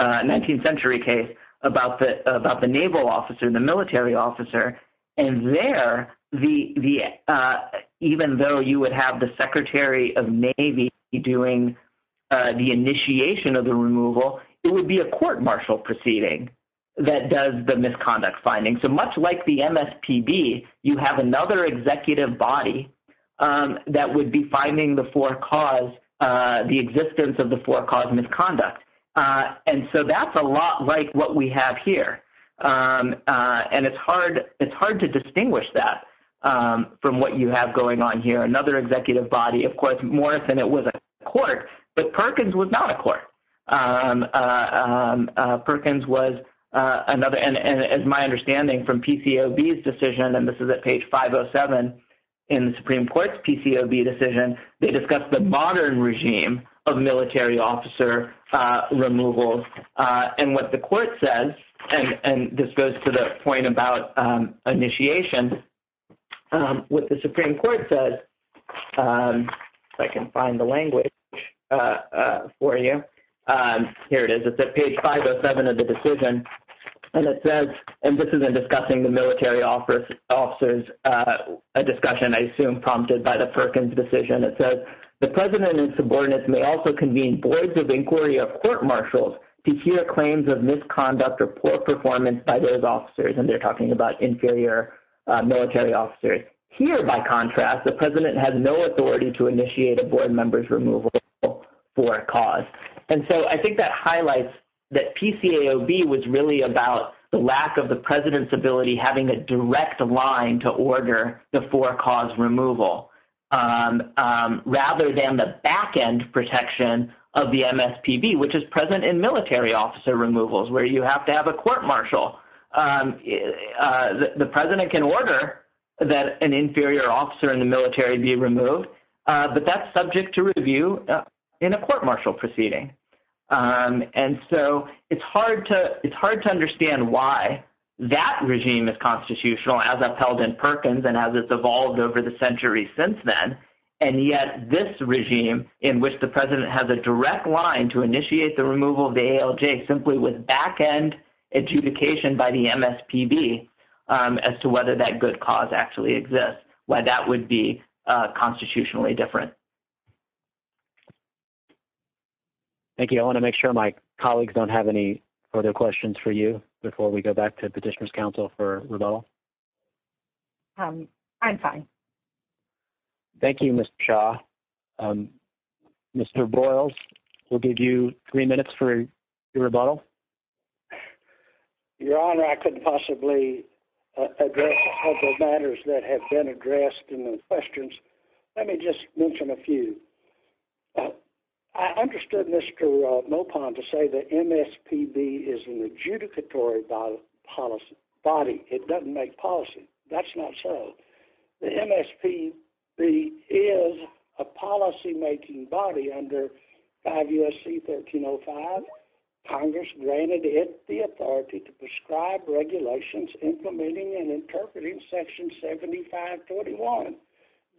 19th century case, about the naval officer, the military officer. And there, even though you would have the secretary of Navy doing the initiation of the removal, it would be a court-martial proceeding that does the misconduct finding. So much like the MSPB, you have another executive body that would be finding the four cause, the existence of the four cause misconduct. And so that's a lot like what we have here. And it's hard to distinguish that from what you have going on here, another executive body. Of course, more than it was a court, Perkins was not a court. Perkins was another, and my understanding from PCOB's decision, and this is at page 507 in the Supreme Court's PCOB decision, they discussed the modern regime of military officer removal. And what the court says, and this goes to the point about initiation, what the Supreme Court says, if I can find the language for you, here it is. It's at page 507 of the decision, and it says, and this is in discussing the military officers, a discussion I assume prompted by the Perkins decision. It says, the president and subordinates may also convene boards of inquiry of court-martials to hear claims of misconduct or poor performance by those officers. And they're talking about inferior military officers. Here, by contrast, the president had no authority to initiate a board member's removal for a cause. And so I think that highlights that PCAOB was really about the lack of the president's ability, having a direct line to order the four cause removal, rather than the back-end protection of the MSPB, which is present in military officer removals, where you have to have a court-martial. The president can order that an inferior officer in the military be removed, but that's subject to review in a court-martial proceeding. And so it's hard to understand why that regime is constitutional, as upheld in Perkins and as it's evolved over the centuries since then. And yet this regime, in which the president has a direct line to initiate the removal of the ALJ, simply with back-end adjudication by the MSPB as to whether that good cause actually exists, why that would be constitutionally different. Thank you. I want to make sure my colleagues don't have any further questions for you before we go back to Petitioner's Council for rebuttal. I'm fine. Thank you, Mr. Shaw. Mr. Boyles, we'll give you three minutes for your rebuttal. Your Honor, I couldn't possibly address the matters that have been addressed in the questions. Let me just mention a few. I understood Mr. Mopon to say the MSPB is an adjudicatory body. It doesn't make policy. That's not so. The MSPB is a policymaking body under 5 U.S.C. 1305. Congress granted it the authority to prescribe regulations implementing and interpreting Section 7541. It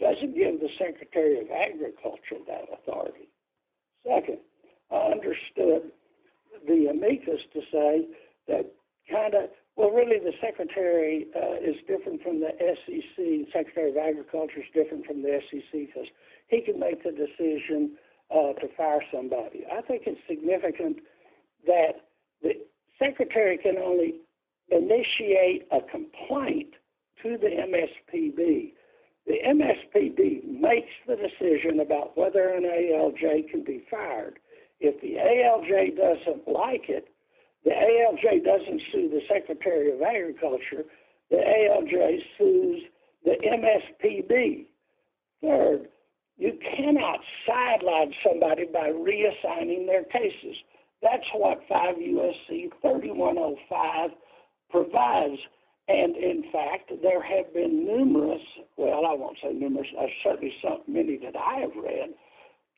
doesn't give the Secretary of Agriculture that authority. Second, I understood the amicus to say that kind of, well, really the Secretary is different from the SEC. The Secretary of Agriculture is different from the SEC because he can make the decision to fire somebody. I think it's significant that the Secretary can only initiate a complaint to the MSPB. The MSPB makes the decision about whether an ALJ can be fired. If the ALJ doesn't like it, the ALJ doesn't sue the Secretary of Agriculture, the ALJ sues the MSPB. You cannot sideline somebody by reassigning their cases. That's what 5 U.S.C. 3105 provides. In fact, there have been numerous, well, I won't say numerous, certainly many that I have read,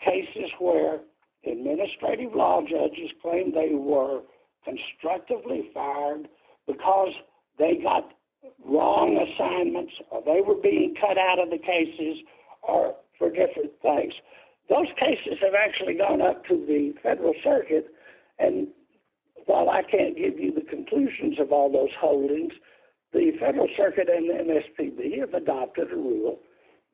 cases where administrative law judges claim they were constructively fired because they got wrong assignments or they were being cut out of the cases or for different things. Those cases have actually gone up to the Federal Circuit. While I can't give you the conclusions of all those holdings, the Federal Circuit and the MSPB have adopted a rule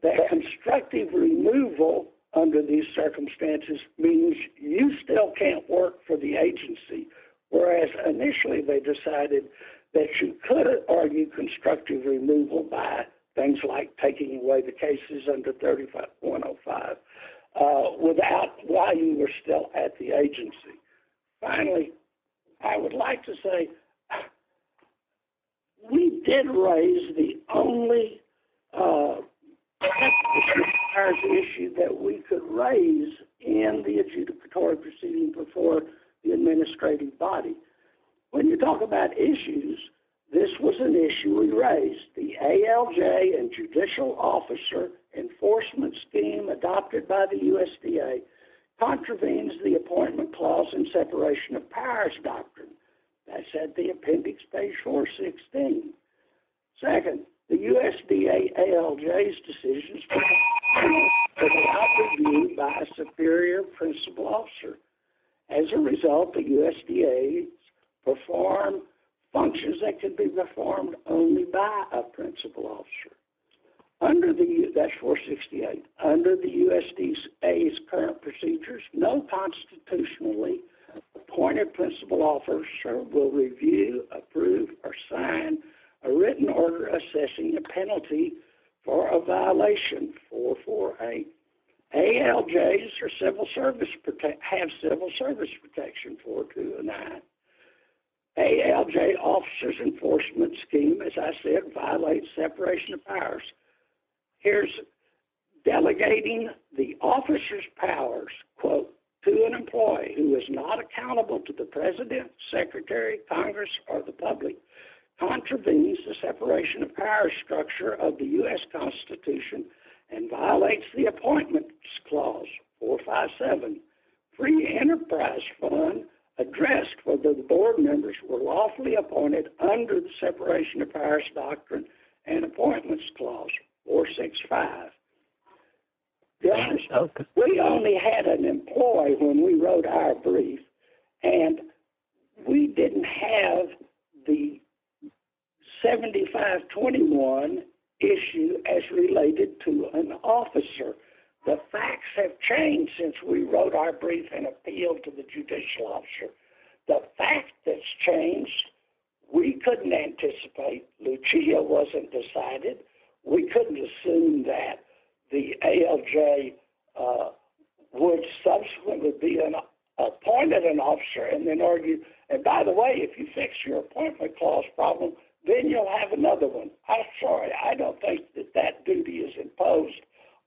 that constructive removal under these circumstances means you still can't work for the agency, whereas initially they decided that you could argue constructive removal by things like taking away the cases under 3105 without why you were still at the agency. Finally, I would like to say we did raise the only issue that we could raise in the adjudicatory proceeding before the administrative body. When you talk about issues, this was an issue we raised. The ALJ and judicial officer enforcement scheme adopted by the USDA contravenes the appointment clause and separation of powers doctrine. That's at the appendix page 416. Second, the USDA ALJ's decisions were adopted by a superior principal officer. As a result, the USDA performed functions that could be performed only by a principal officer. That's 468. Under the USDA's current procedures, no constitutionally appointed principal officer will review, approve, or sign a written order assessing a penalty for a violation 448. Finally, ALJs have civil service protection 429. ALJ officer's enforcement scheme, as I said, violates separation of powers. Here's delegating the officer's powers, quote, to an employee who is not accountable to the president, secretary, Congress, or the public, contravenes the separation of powers structure of the U.S. Constitution and violates the appointments clause, 457. Free enterprise fund addressed for the board members were lawfully appointed under the separation of powers doctrine and appointments clause, 465. We only had an employee when we wrote our brief, and we didn't have the 7521 issue as related to an officer. The facts have changed since we wrote our brief and appealed to the judicial officer. The fact that's changed, we couldn't anticipate. Lucia wasn't decided. We couldn't assume that the ALJ would subsequently be appointed an officer and then argue, and by the way, if you fix your appointment clause problem, then you'll have another one. I'm sorry, I don't think that that duty is imposed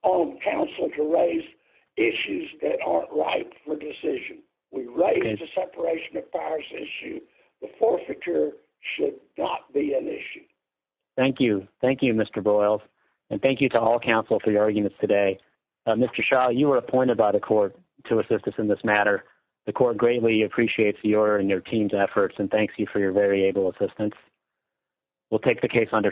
on counsel to raise issues that aren't right for decision. We raised the separation of powers issue. The forfeiture should not be an issue. Thank you. Thank you, Mr. Broyles, and thank you to all counsel for your arguments today. Mr. Shaw, you were appointed by the court to assist us in this matter. The court greatly appreciates your and your team's efforts and thanks you for your very able assistance. We'll take the case under submission.